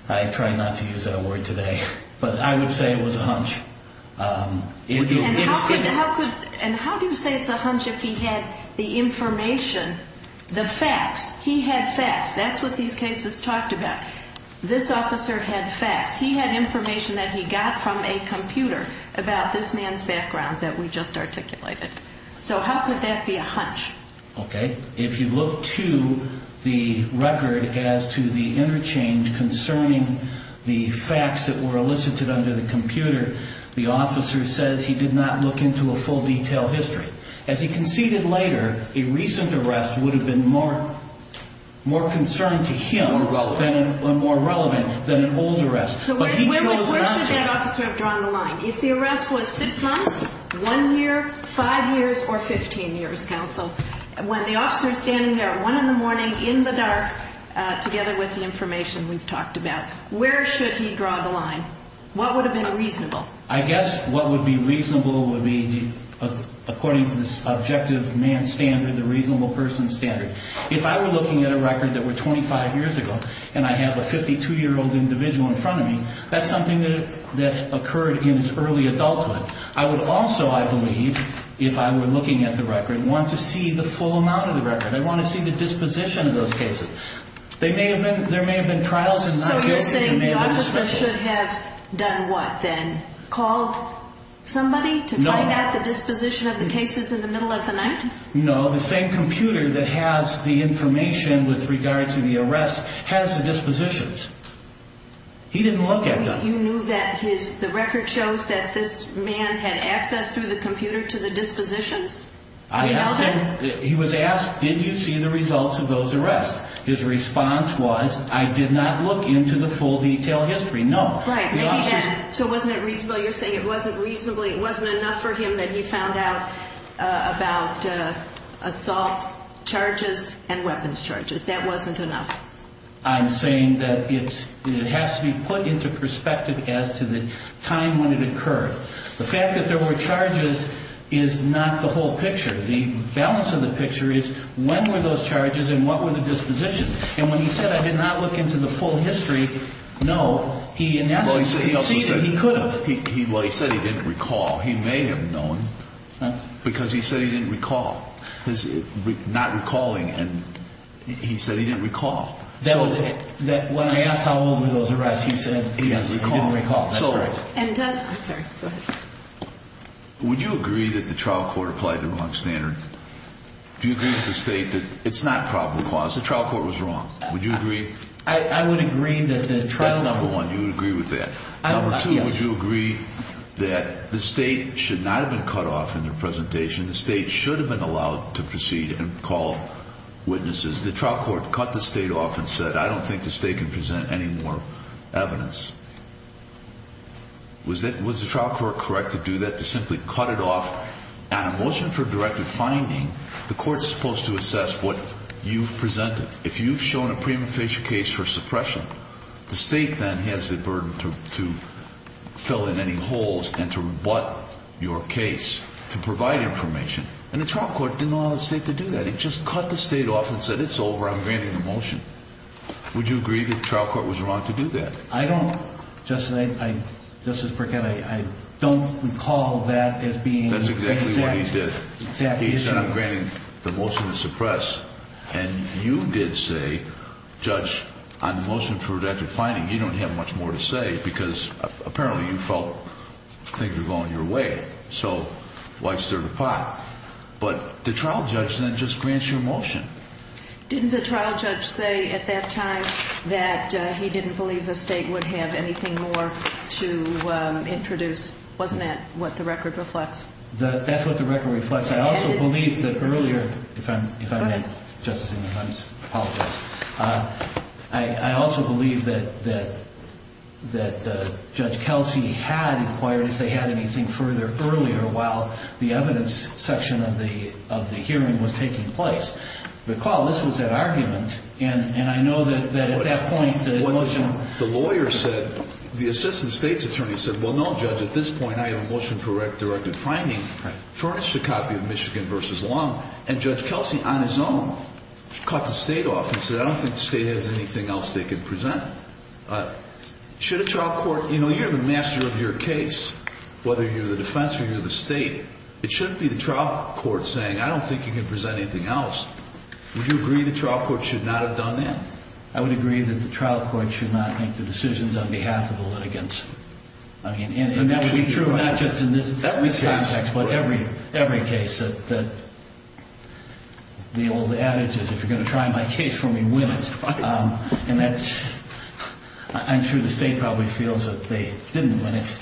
I try not to use that word today, but I would say it was a hunch. And how do you say it's a hunch if he had the information, the facts? He had facts. That's what these cases talked about. This officer had facts. He had information that he got from a computer about this man's background that we just articulated. So how could that be a hunch? Okay, if you look to the record as to the interchange concerning the facts that were elicited under the computer, the officer says he did not look into a full detailed history. As he conceded later, a recent arrest would have been more concerned to him and more relevant than an old arrest. So where should that officer have drawn the line? If the arrest was six months, one year, five years, or 15 years, counsel, when the officer is standing there at 1 in the morning in the dark, together with the information we've talked about, where should he draw the line? What would have been reasonable? I guess what would be reasonable would be, according to the subjective man standard, the reasonable person standard. If I were looking at a record that were 25 years ago and I have a 52-year-old individual in front of me, that's something that occurred in his early adulthood. I would also, I believe, if I were looking at the record, want to see the full amount of the record. I want to see the disposition of those cases. There may have been trials and not cases. So you're saying the officer should have done what then? Called somebody to find out the disposition of the cases in the middle of the night? No. The same computer that has the information with regard to the arrest has the dispositions. He didn't look at them. You knew that the record shows that this man had access through the computer to the dispositions? I asked him. He was asked, did you see the results of those arrests? His response was, I did not look into the full detailed history, no. Right. So wasn't it reasonable? Well, you're saying it wasn't enough for him that he found out about assault charges and weapons charges. That wasn't enough. I'm saying that it has to be put into perspective as to the time when it occurred. The fact that there were charges is not the whole picture. The balance of the picture is when were those charges and what were the dispositions. And when he said, I did not look into the full history, no. He said he didn't recall. He may have known because he said he didn't recall. Not recalling and he said he didn't recall. When I asked how old were those arrests, he said he didn't recall. Would you agree that the trial court applied the wrong standard? Do you agree with the state that it's not probable cause? The trial court was wrong. Would you agree? I would agree that the trial court. That's number one. You would agree with that. Number two, would you agree that the state should not have been cut off in their presentation? The state should have been allowed to proceed and call witnesses. The trial court cut the state off and said, I don't think the state can present any more evidence. Was the trial court correct to do that, to simply cut it off? On a motion for directed finding, the court is supposed to assess what you've presented. If you've shown a prima facie case for suppression, the state then has the burden to fill in any holes and to rebut your case to provide information. And the trial court didn't allow the state to do that. It just cut the state off and said, it's over. I'm granting the motion. Would you agree that the trial court was wrong to do that? I don't. Justice Burkett, I don't recall that as being the exact issue. He said, I'm granting the motion to suppress. And you did say, Judge, on the motion for directed finding, you don't have much more to say because apparently you felt things were going your way, so why stir the pot? But the trial judge then just grants your motion. Didn't the trial judge say at that time that he didn't believe the state would have anything more to introduce? Wasn't that what the record reflects? That's what the record reflects. I also believe that earlier, if I may, Justice Evans, I apologize. I also believe that Judge Kelsey had inquired if they had anything further earlier while the evidence section of the hearing was taking place. Recall, this was at argument, and I know that at that point the motion… The lawyer said, the assistant state's attorney said, well, no, Judge, at this point I have a motion for directed finding. Furnished a copy of Michigan v. Long, and Judge Kelsey on his own caught the state off and said, I don't think the state has anything else they could present. Should a trial court… You know, you're the master of your case, whether you're the defense or you're the state. It shouldn't be the trial court saying, I don't think you can present anything else. Would you agree the trial court should not have done that? I would agree that the trial court should not make the decisions on behalf of the litigants. And that would be true not just in this context, but every case that the old adage is, if you're going to try my case for me, win it. And that's… I'm sure the state probably feels that they didn't win it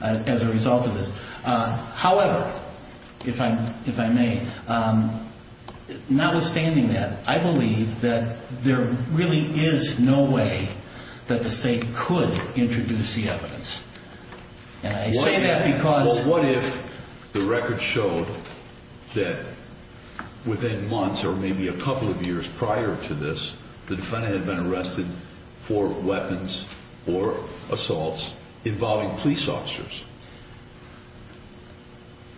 as a result of this. However, if I may, notwithstanding that, I believe that there really is no way that the state could introduce the evidence. And I say that because… Well, what if the record showed that within months or maybe a couple of years prior to this, the defendant had been arrested for weapons or assaults involving police officers?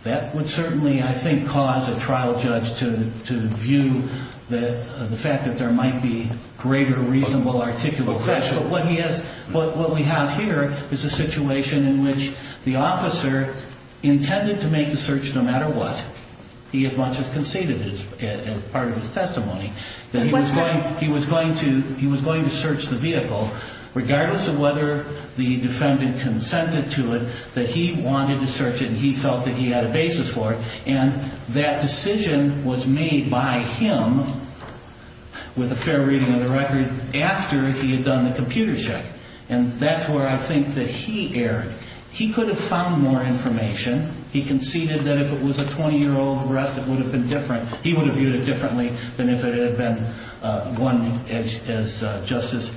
That would certainly, I think, cause a trial judge to view the fact that there might be greater reasonable… But what we have here is a situation in which the officer intended to make the search no matter what. He as much as conceded as part of his testimony. He was going to search the vehicle, regardless of whether the defendant consented to it, that he wanted to search it and he felt that he had a basis for it. And that decision was made by him, with a fair reading of the record, after he had done the computer check. And that's where I think that he erred. He could have found more information. He conceded that if it was a 20-year-old arrest, it would have been different. He would have viewed it differently than if it had been one, as Justice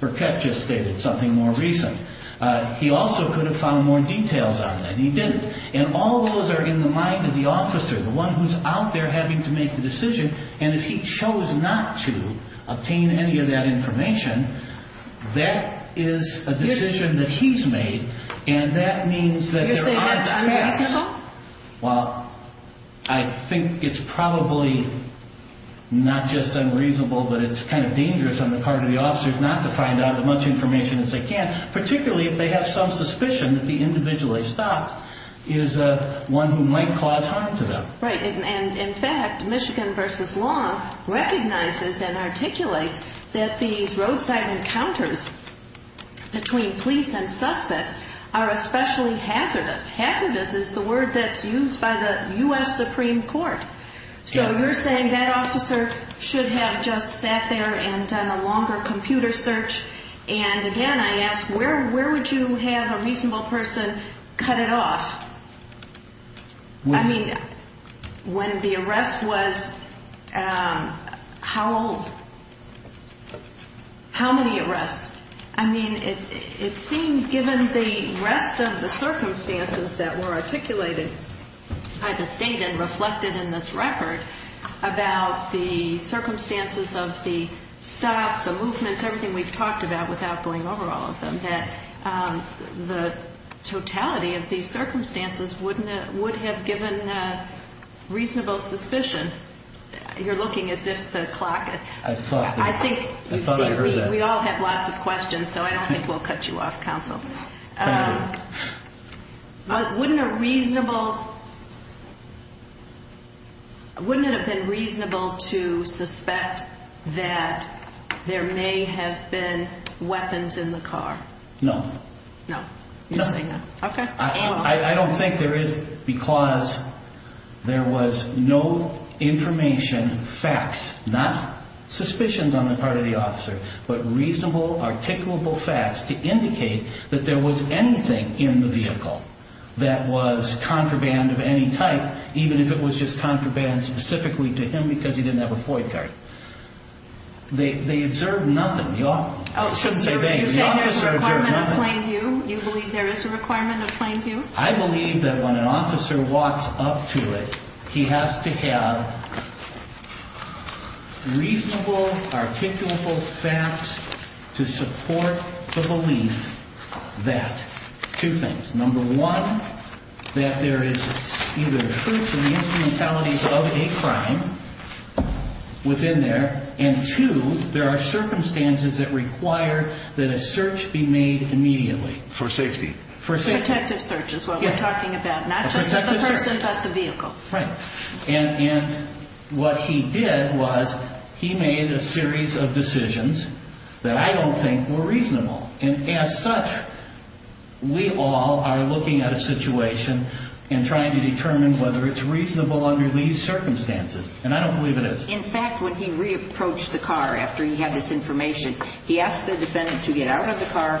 Burkett just stated, something more recent. He also could have found more details on that. He didn't. And all those are in the mind of the officer, the one who's out there having to make the decision. And if he chose not to obtain any of that information, that is a decision that he's made. And that means that there are facts… You're saying that's unreasonable? Well, I think it's probably not just unreasonable, but it's kind of dangerous on the part of the officers not to find out as much information as they can, particularly if they have some suspicion that the individual they stopped is one who might cause harm to them. Right. And, in fact, Michigan v. Law recognizes and articulates that these roadside encounters between police and suspects are especially hazardous. Hazardous is the word that's used by the U.S. Supreme Court. So you're saying that officer should have just sat there and done a longer computer search. And, again, I ask, where would you have a reasonable person cut it off? I mean, when the arrest was… how old? How many arrests? I mean, it seems, given the rest of the circumstances that were articulated by the State and reflected in this record, about the circumstances of the stop, the movements, everything we've talked about without going over all of them, that the totality of these circumstances would have given reasonable suspicion. You're looking as if the clock… I thought I heard that. We all have lots of questions, so I don't think we'll cut you off, counsel. Thank you. Wouldn't it have been reasonable to suspect that there may have been weapons in the car? No. No. You're saying no. Okay. I don't think there is, because there was no information, facts, not suspicions on the part of the officer, but reasonable, articulable facts to indicate that there was anything in the vehicle that was contraband of any type, even if it was just contraband specifically to him because he didn't have a FOIA card. They observed nothing. You believe there is a requirement of plain view? I believe that when an officer walks up to it, he has to have reasonable, articulable facts to support the belief that two things. Number one, that there is either truth to the instrumentalities of a crime within there, and two, there are circumstances that require that a search be made immediately. For safety. For safety. Protective search is what we're talking about, not just with the person, but the vehicle. Right. And what he did was he made a series of decisions that I don't think were reasonable, and as such, we all are looking at a situation and trying to determine whether it's reasonable under these circumstances, and I don't believe it is. In fact, when he re-approached the car after he had this information, he asked the defendant to get out of the car,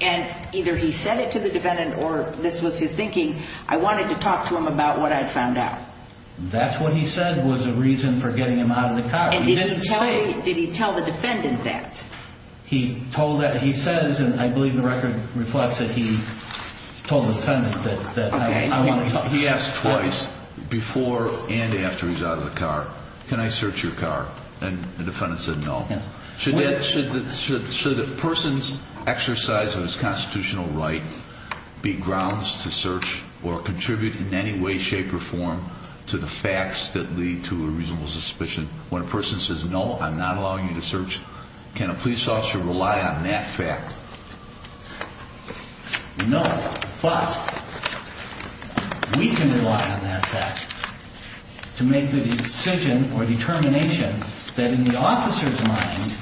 and either he said it to the defendant or this was his thinking, I wanted to talk to him about what I found out. That's what he said was a reason for getting him out of the car. And did he tell the defendant that? He says, and I believe the record reflects it, he told the defendant that I want to talk to him. He asked twice, before and after he was out of the car, can I search your car? And the defendant said no. Should a person's exercise of his constitutional right be grounds to search or contribute in any way, shape, or form to the facts that lead to a reasonable suspicion? When a person says no, I'm not allowing you to search, can a police officer rely on that fact? No, but we can rely on that fact to make the decision or determination that in the officer's mind,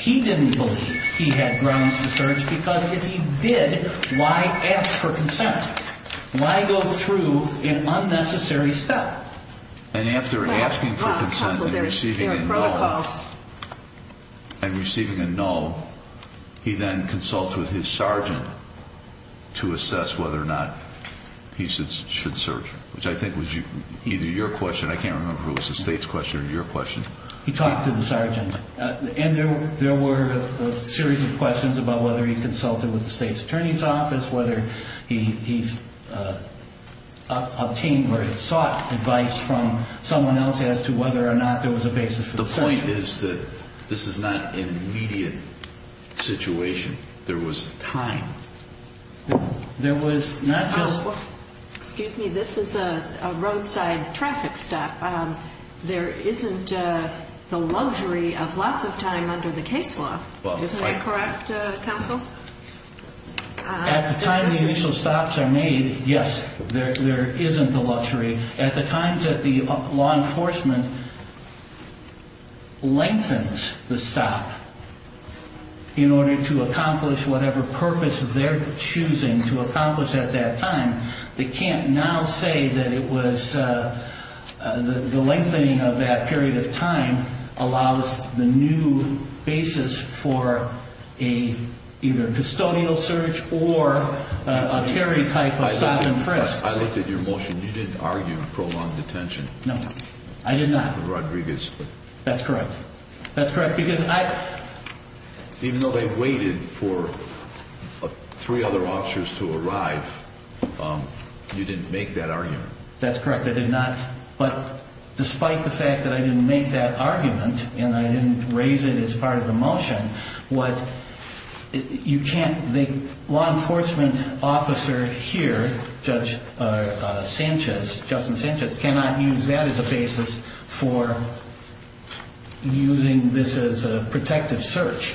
he didn't believe he had grounds to search because if he did, why ask for consent? Why go through an unnecessary step? And after asking for consent and receiving a no, he then consults with his sergeant to assess whether or not he should search, which I think was either your question, I can't remember if it was the state's question or your question. He talked to the sergeant, and there were a series of questions about whether he consulted with the state's attorney's office, whether he sought advice from someone else as to whether or not there was a basis for the search. The point is that this is not an immediate situation. There was time. There was not just – Excuse me, this is a roadside traffic stop. There isn't the luxury of lots of time under the case law. Isn't that correct, counsel? At the time the initial stops are made, yes, there isn't the luxury. At the times that the law enforcement lengthens the stop in order to accomplish whatever purpose they're choosing to accomplish at that time, they can't now say that it was – the lengthening of that period of time allows the new basis for either a custodial search or a Terry type of stop and frisk. I looked at your motion. You didn't argue prolonged detention. No, I did not. Rodriguez. That's correct. That's correct because I – Even though they waited for three other officers to arrive, you didn't make that argument. That's correct. I did not. But despite the fact that I didn't make that argument and I didn't raise it as part of the motion, what – The law enforcement officer here, Judge Sanchez, Justin Sanchez, cannot use that as a basis for using this as a protective search.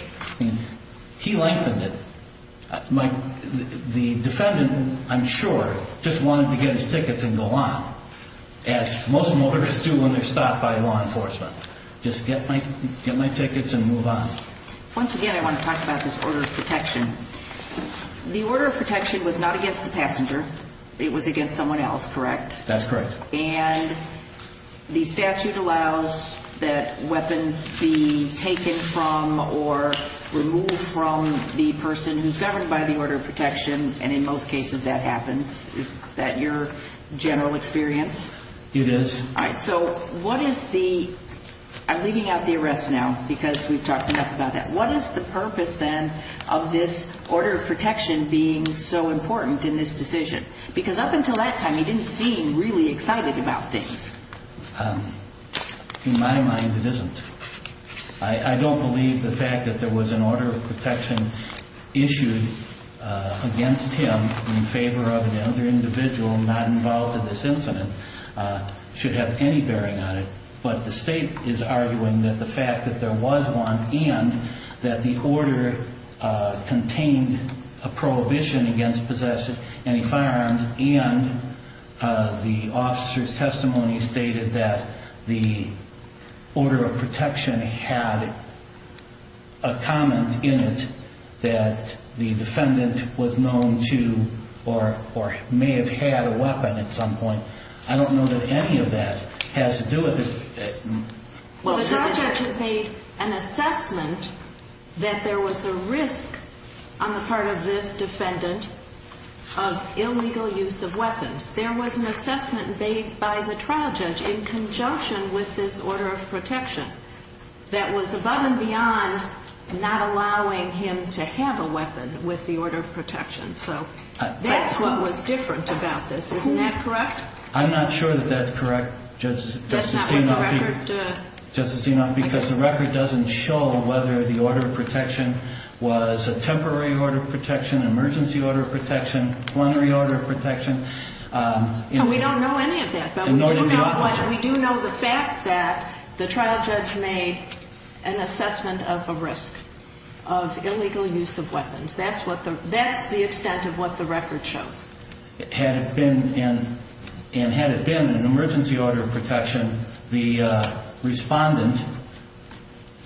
He lengthened it. The defendant, I'm sure, just wanted to get his tickets and go on, as most motorists do when they're stopped by law enforcement. Just get my tickets and move on. Once again, I want to talk about this order of protection. The order of protection was not against the passenger. It was against someone else, correct? That's correct. And the statute allows that weapons be taken from or removed from the person who's governed by the order of protection, and in most cases that happens. Is that your general experience? It is. All right, so what is the – I'm leaving out the arrest now because we've talked enough about that. What is the purpose, then, of this order of protection being so important in this decision? Because up until that time, he didn't seem really excited about things. In my mind, it isn't. I don't believe the fact that there was an order of protection issued against him in favor of another individual not involved in this incident should have any bearing on it. But the state is arguing that the fact that there was one and that the order contained a prohibition against possessing any firearms and the officer's testimony stated that the order of protection had a comment in it that the defendant was known to or may have had a weapon at some point. I don't know that any of that has to do with it. Well, the trial judge made an assessment that there was a risk on the part of this defendant of illegal use of weapons. There was an assessment made by the trial judge in conjunction with this order of protection that was above and beyond not allowing him to have a weapon with the order of protection. So that's what was different about this. Isn't that correct? I'm not sure that that's correct, Justice Enoff. Justice Enoff, because the record doesn't show whether the order of protection was a temporary order of protection, emergency order of protection, plenary order of protection. We don't know any of that, but we do know the fact that the trial judge made an assessment of a risk of illegal use of weapons. That's the extent of what the record shows. Had it been an emergency order of protection, the respondent,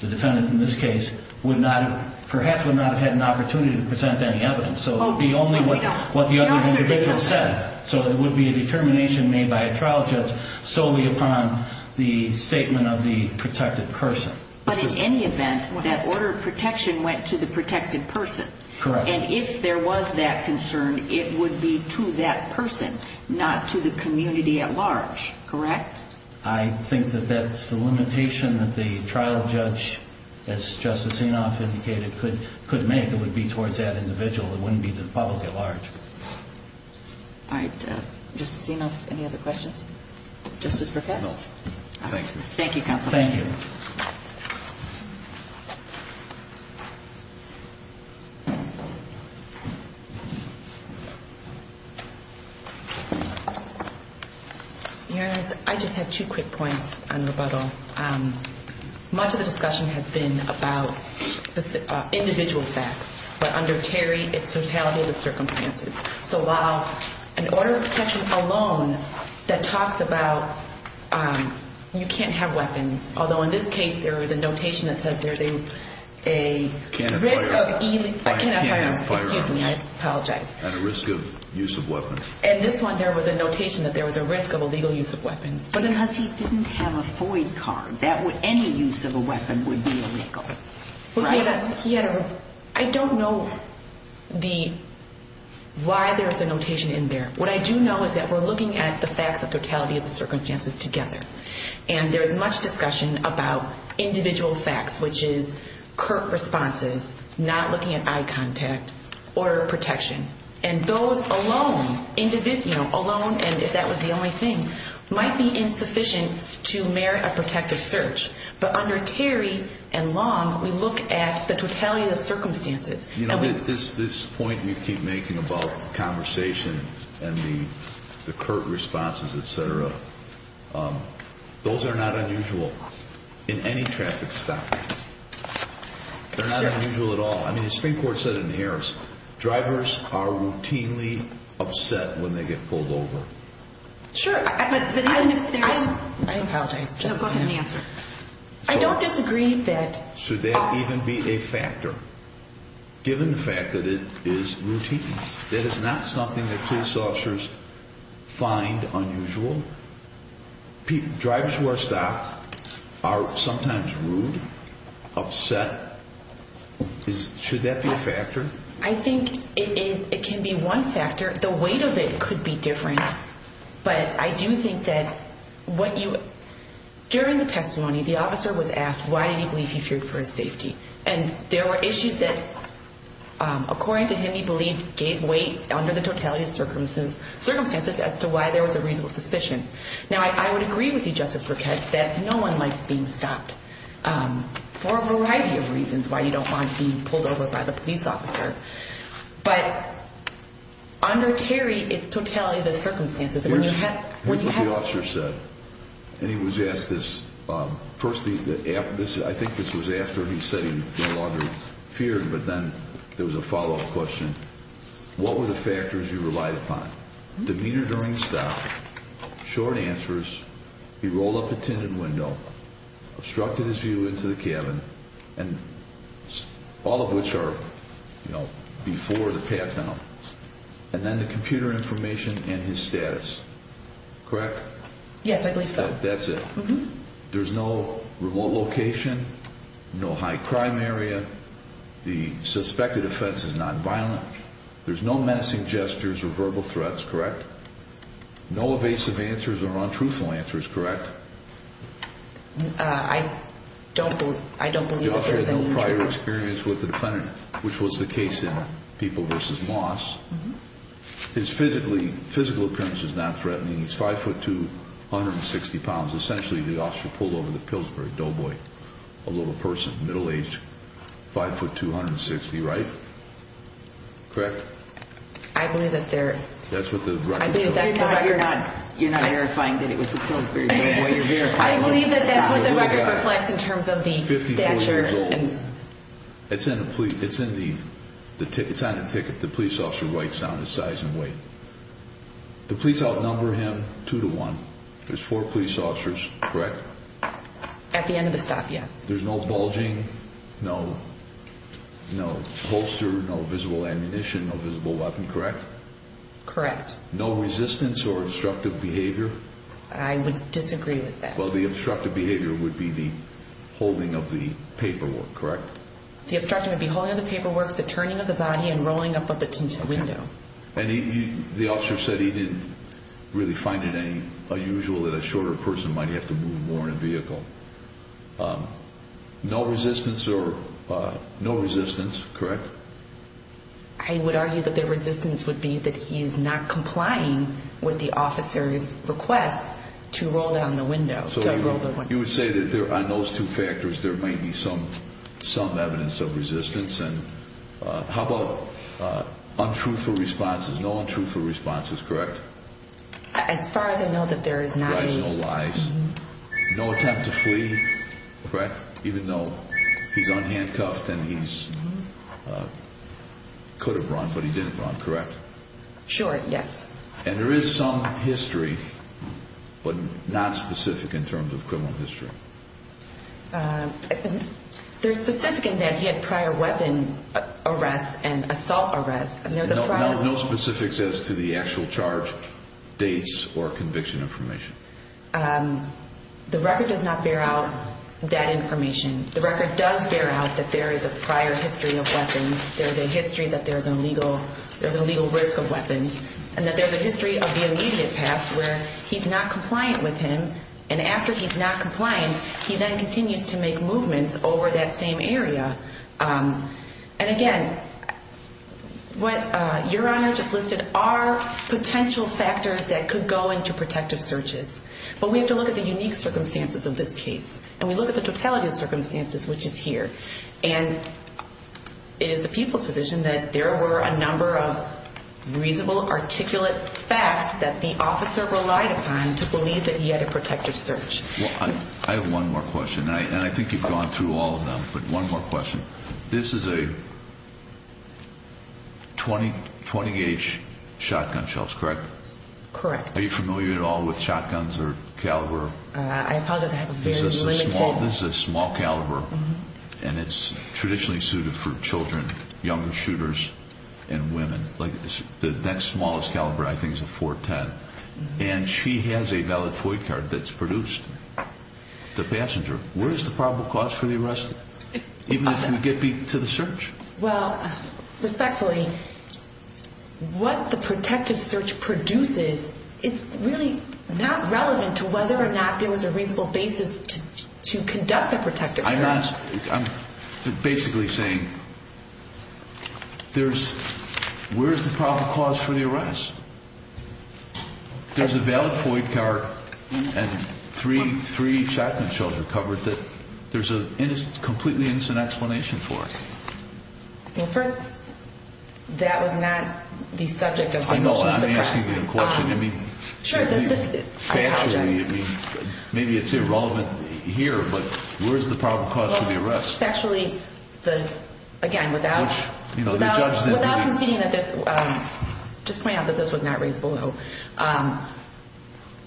the defendant in this case, perhaps would not have had an opportunity to present any evidence. So it would be only what the other individual said. So it would be a determination made by a trial judge solely upon the statement of the protected person. But in any event, that order of protection went to the protected person. Correct. And if there was that concern, it would be to that person, not to the community at large. Correct? I think that that's the limitation that the trial judge, as Justice Enoff indicated, could make. It would be towards that individual. It wouldn't be to the public at large. All right. Justice Enoff, any other questions? Justice Burkett? No. Thank you. Thank you, Counsel. Thank you. Your Honor, I just have two quick points on rebuttal. Much of the discussion has been about individual facts. But under Terry, it's totality of the circumstances. So while an order of protection alone that talks about you can't have weapons, although in this case there was a notation that said there's a risk of I can't have firearms. Excuse me. I apologize. And a risk of use of weapons. In this one, there was a notation that there was a risk of illegal use of weapons. Because he didn't have a FOID card. Any use of a weapon would be illegal. Right? I don't know why there's a notation in there. What I do know is that we're looking at the facts of totality of the circumstances together. And there's much discussion about individual facts, which is curt responses, not looking at eye contact, order of protection. And those alone, if that was the only thing, might be insufficient to merit a protective search. But under Terry and Long, we look at the totality of the circumstances. You know, this point you keep making about the conversation and the curt responses, et cetera, those are not unusual in any traffic stop. They're not unusual at all. I mean, the Supreme Court said it in Harris. Drivers are routinely upset when they get pulled over. Sure. But even if there's a... I apologize. No, go ahead and answer. I don't disagree that... Given the fact that it is routine, that is not something that police officers find unusual. Drivers who are stopped are sometimes rude, upset. Should that be a factor? I think it can be one factor. The weight of it could be different. But I do think that what you... During the testimony, the officer was asked why did he believe he feared for his safety. And there were issues that, according to him, he believed gave weight under the totality of circumstances as to why there was a reasonable suspicion. Now, I would agree with you, Justice Burkett, that no one likes being stopped for a variety of reasons why you don't want to be pulled over by the police officer. But under Terry, it's totality of the circumstances. Here's what the officer said. And he was asked this. First, I think this was after he said he no longer feared, but then there was a follow-up question. What were the factors you relied upon? Demeanor during stop, short answers, he rolled up a tinted window, obstructed his view into the cabin, all of which are before the path down. And then the computer information and his status. Correct? Yes, I believe so. That's it? Mm-hmm. There's no remote location, no high crime area. The suspected offense is nonviolent. There's no menacing gestures or verbal threats, correct? No evasive answers or untruthful answers, correct? I don't believe... The officer had no prior experience with the defendant, which was the case in People v. Moss. His physical appearance was not threatening. He's 5'2", 160 pounds. Essentially, the officer pulled over the Pillsbury Doughboy, a little person, middle-aged, 5'2", 160, right? Correct? I believe that they're... That's what the record says. You're not verifying that it was the Pillsbury Doughboy. I believe that that's what the record reflects in terms of the stature. It's on the ticket. The police officer writes down his size and weight. The police outnumber him 2 to 1. There's four police officers, correct? At the end of the stop, yes. There's no bulging, no holster, no visible ammunition, no visible weapon, correct? Correct. No resistance or obstructive behavior? I would disagree with that. Well, the obstructive behavior would be the holding of the paperwork, correct? The obstruction would be holding of the paperwork, the turning of the body, and rolling up of the tinted window. And the officer said he didn't really find it unusual that a shorter person might have to move more in a vehicle. No resistance, correct? I would argue that the resistance would be that he's not complying with the officer's request to roll down the window. You would say that on those two factors there may be some evidence of resistance. And how about untruthful responses? No untruthful responses, correct? As far as I know that there is not any. No lies. No attempt to flee, correct? Even though he's unhandcuffed and he could have run, but he didn't run, correct? Sure, yes. And there is some history, but not specific in terms of criminal history? There's specific in that he had prior weapon arrests and assault arrests. No specifics as to the actual charge, dates, or conviction information? The record does not bear out that information. The record does bear out that there is a prior history of weapons. There's a history that there's an illegal risk of weapons. And that there's a history of the immediate past where he's not compliant with him. And after he's not compliant, he then continues to make movements over that same area. And again, what Your Honor just listed are potential factors that could go into protective searches. But we have to look at the unique circumstances of this case. And we look at the totality of the circumstances, which is here. And it is the people's position that there were a number of reasonable, articulate facts that the officer relied upon to believe that he had a protective search. I have one more question. And I think you've gone through all of them. But one more question. This is a 20-gauge shotgun shell, correct? Correct. Are you familiar at all with shotguns or caliber? I apologize, I have a very limited— This is a small caliber. And it's traditionally suited for children, younger shooters, and women. The next smallest caliber I think is a .410. And she has a valid FOIA card that's produced. The passenger. Where's the probable cause for the arrest? Even if you get to the search. Well, respectfully, what the protective search produces is really not relevant to whether or not there was a reasonable basis to conduct the protective search. I'm basically saying, where's the probable cause for the arrest? There's a valid FOIA card and three shotgun shells were covered that there's a completely innocent explanation for. Well, first, that was not the subject of the police arrest. I know, I'm asking the question. I mean, factually, maybe it's irrelevant here, but where's the probable cause for the arrest? Well, factually, again, without conceding that this— Just point out that this was not raised below.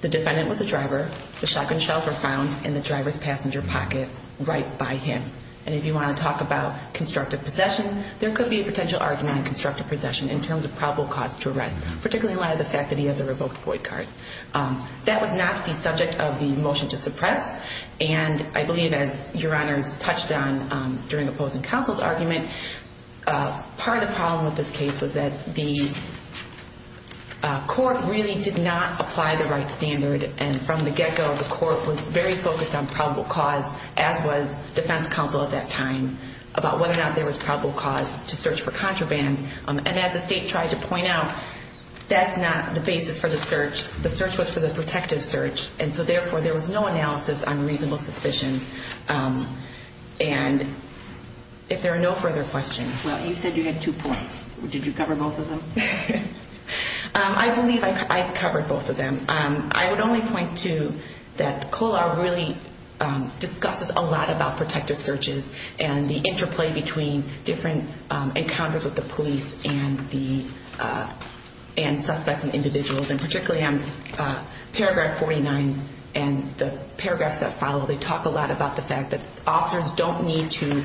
The defendant was a driver. The shotgun shells were found in the driver's passenger pocket right by him. And if you want to talk about constructive possession, there could be a potential argument on constructive possession in terms of probable cause to arrest, particularly in light of the fact that he has a revoked FOIA card. That was not the subject of the motion to suppress. And I believe, as Your Honors touched on during opposing counsel's argument, part of the problem with this case was that the court really did not apply the right standard. And from the get-go, the court was very focused on probable cause, as was defense counsel at that time, about whether or not there was probable cause to search for contraband. And as the state tried to point out, that's not the basis for the search. The search was for the protective search. And so, therefore, there was no analysis on reasonable suspicion. And if there are no further questions. Well, you said you had two points. Did you cover both of them? I believe I covered both of them. I would only point to that COLA really discusses a lot about protective searches and the interplay between different encounters with the police and suspects and individuals. And particularly on paragraph 49 and the paragraphs that follow, they talk a lot about the fact that officers don't need to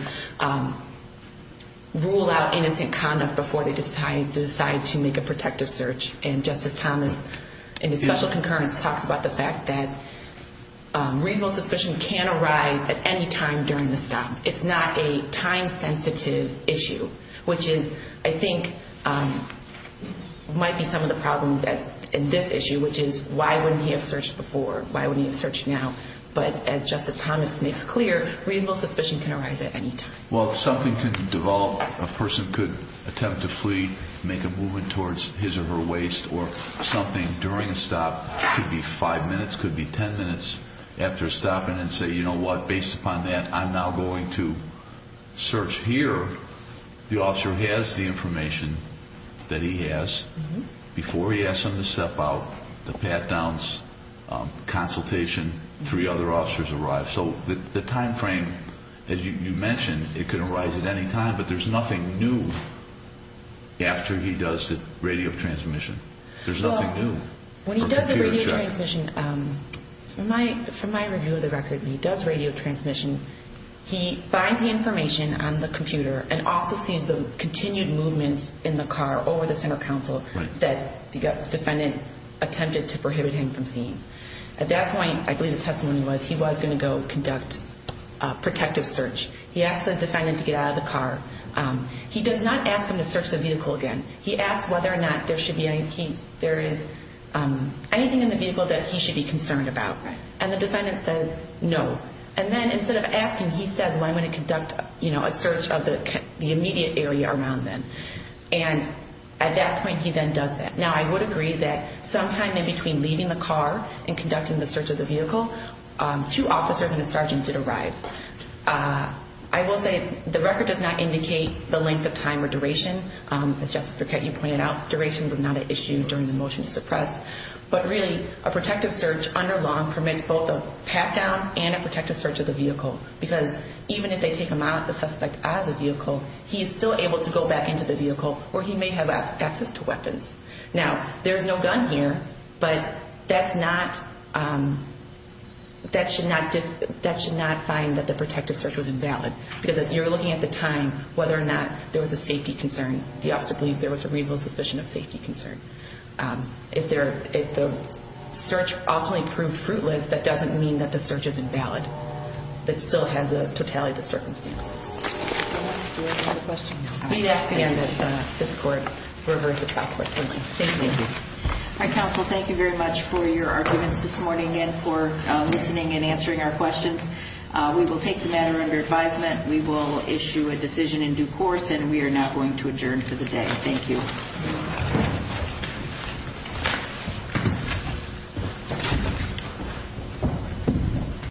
rule out innocent conduct before they decide to make a protective search. And Justice Thomas, in his special concurrence, talks about the fact that reasonable suspicion can arise at any time during the stop. It's not a time-sensitive issue, which is, I think, might be some of the problems in this issue, which is, why wouldn't he have searched before? Why wouldn't he have searched now? But as Justice Thomas makes clear, reasonable suspicion can arise at any time. Well, if something can develop, a person could attempt to flee, make a movement towards his or her waist, or something during a stop, could be five minutes, could be ten minutes after stopping and say, you know what, based upon that, I'm now going to search here. The officer has the information that he has. Before he asks them to step out, the pat-downs, consultation, three other officers arrive. So the time frame, as you mentioned, it can arise at any time, but there's nothing new after he does the radio transmission. There's nothing new. Well, when he does the radio transmission, from my review of the record, when he does radio transmission, he finds the information on the computer and also sees the continued movements in the car over the center council that the defendant attempted to prohibit him from seeing. At that point, I believe the testimony was he was going to go conduct a protective search. He asked the defendant to get out of the car. He does not ask him to search the vehicle again. He asks whether or not there is anything in the vehicle that he should be concerned about. And the defendant says no. And then instead of asking, he says, well, I'm going to conduct a search of the immediate area around them. And at that point, he then does that. Now, I would agree that sometime in between leaving the car and conducting the search of the vehicle, two officers and a sergeant did arrive. I will say the record does not indicate the length of time or duration. As Justice Burkett, you pointed out, duration was not an issue during the motion to suppress. But really, a protective search under law permits both a pat-down and a protective search of the vehicle because even if they take the suspect out of the vehicle, he is still able to go back into the vehicle where he may have access to weapons. Now, there is no gun here, but that should not find that the protective search was invalid because you're looking at the time whether or not there was a safety concern. The officer believed there was a reasonable suspicion of safety concern. If the search ultimately proved fruitless, that doesn't mean that the search is invalid. It still has to tally the circumstances. Do we have another question? I'm going to ask again that this Court reverse the topic for me. Thank you. All right, Counsel. Thank you very much for your arguments this morning and for listening and answering our questions. We will take the matter under advisement. We will issue a decision in due course, and we are now going to adjourn for the day. Thank you. Thank you.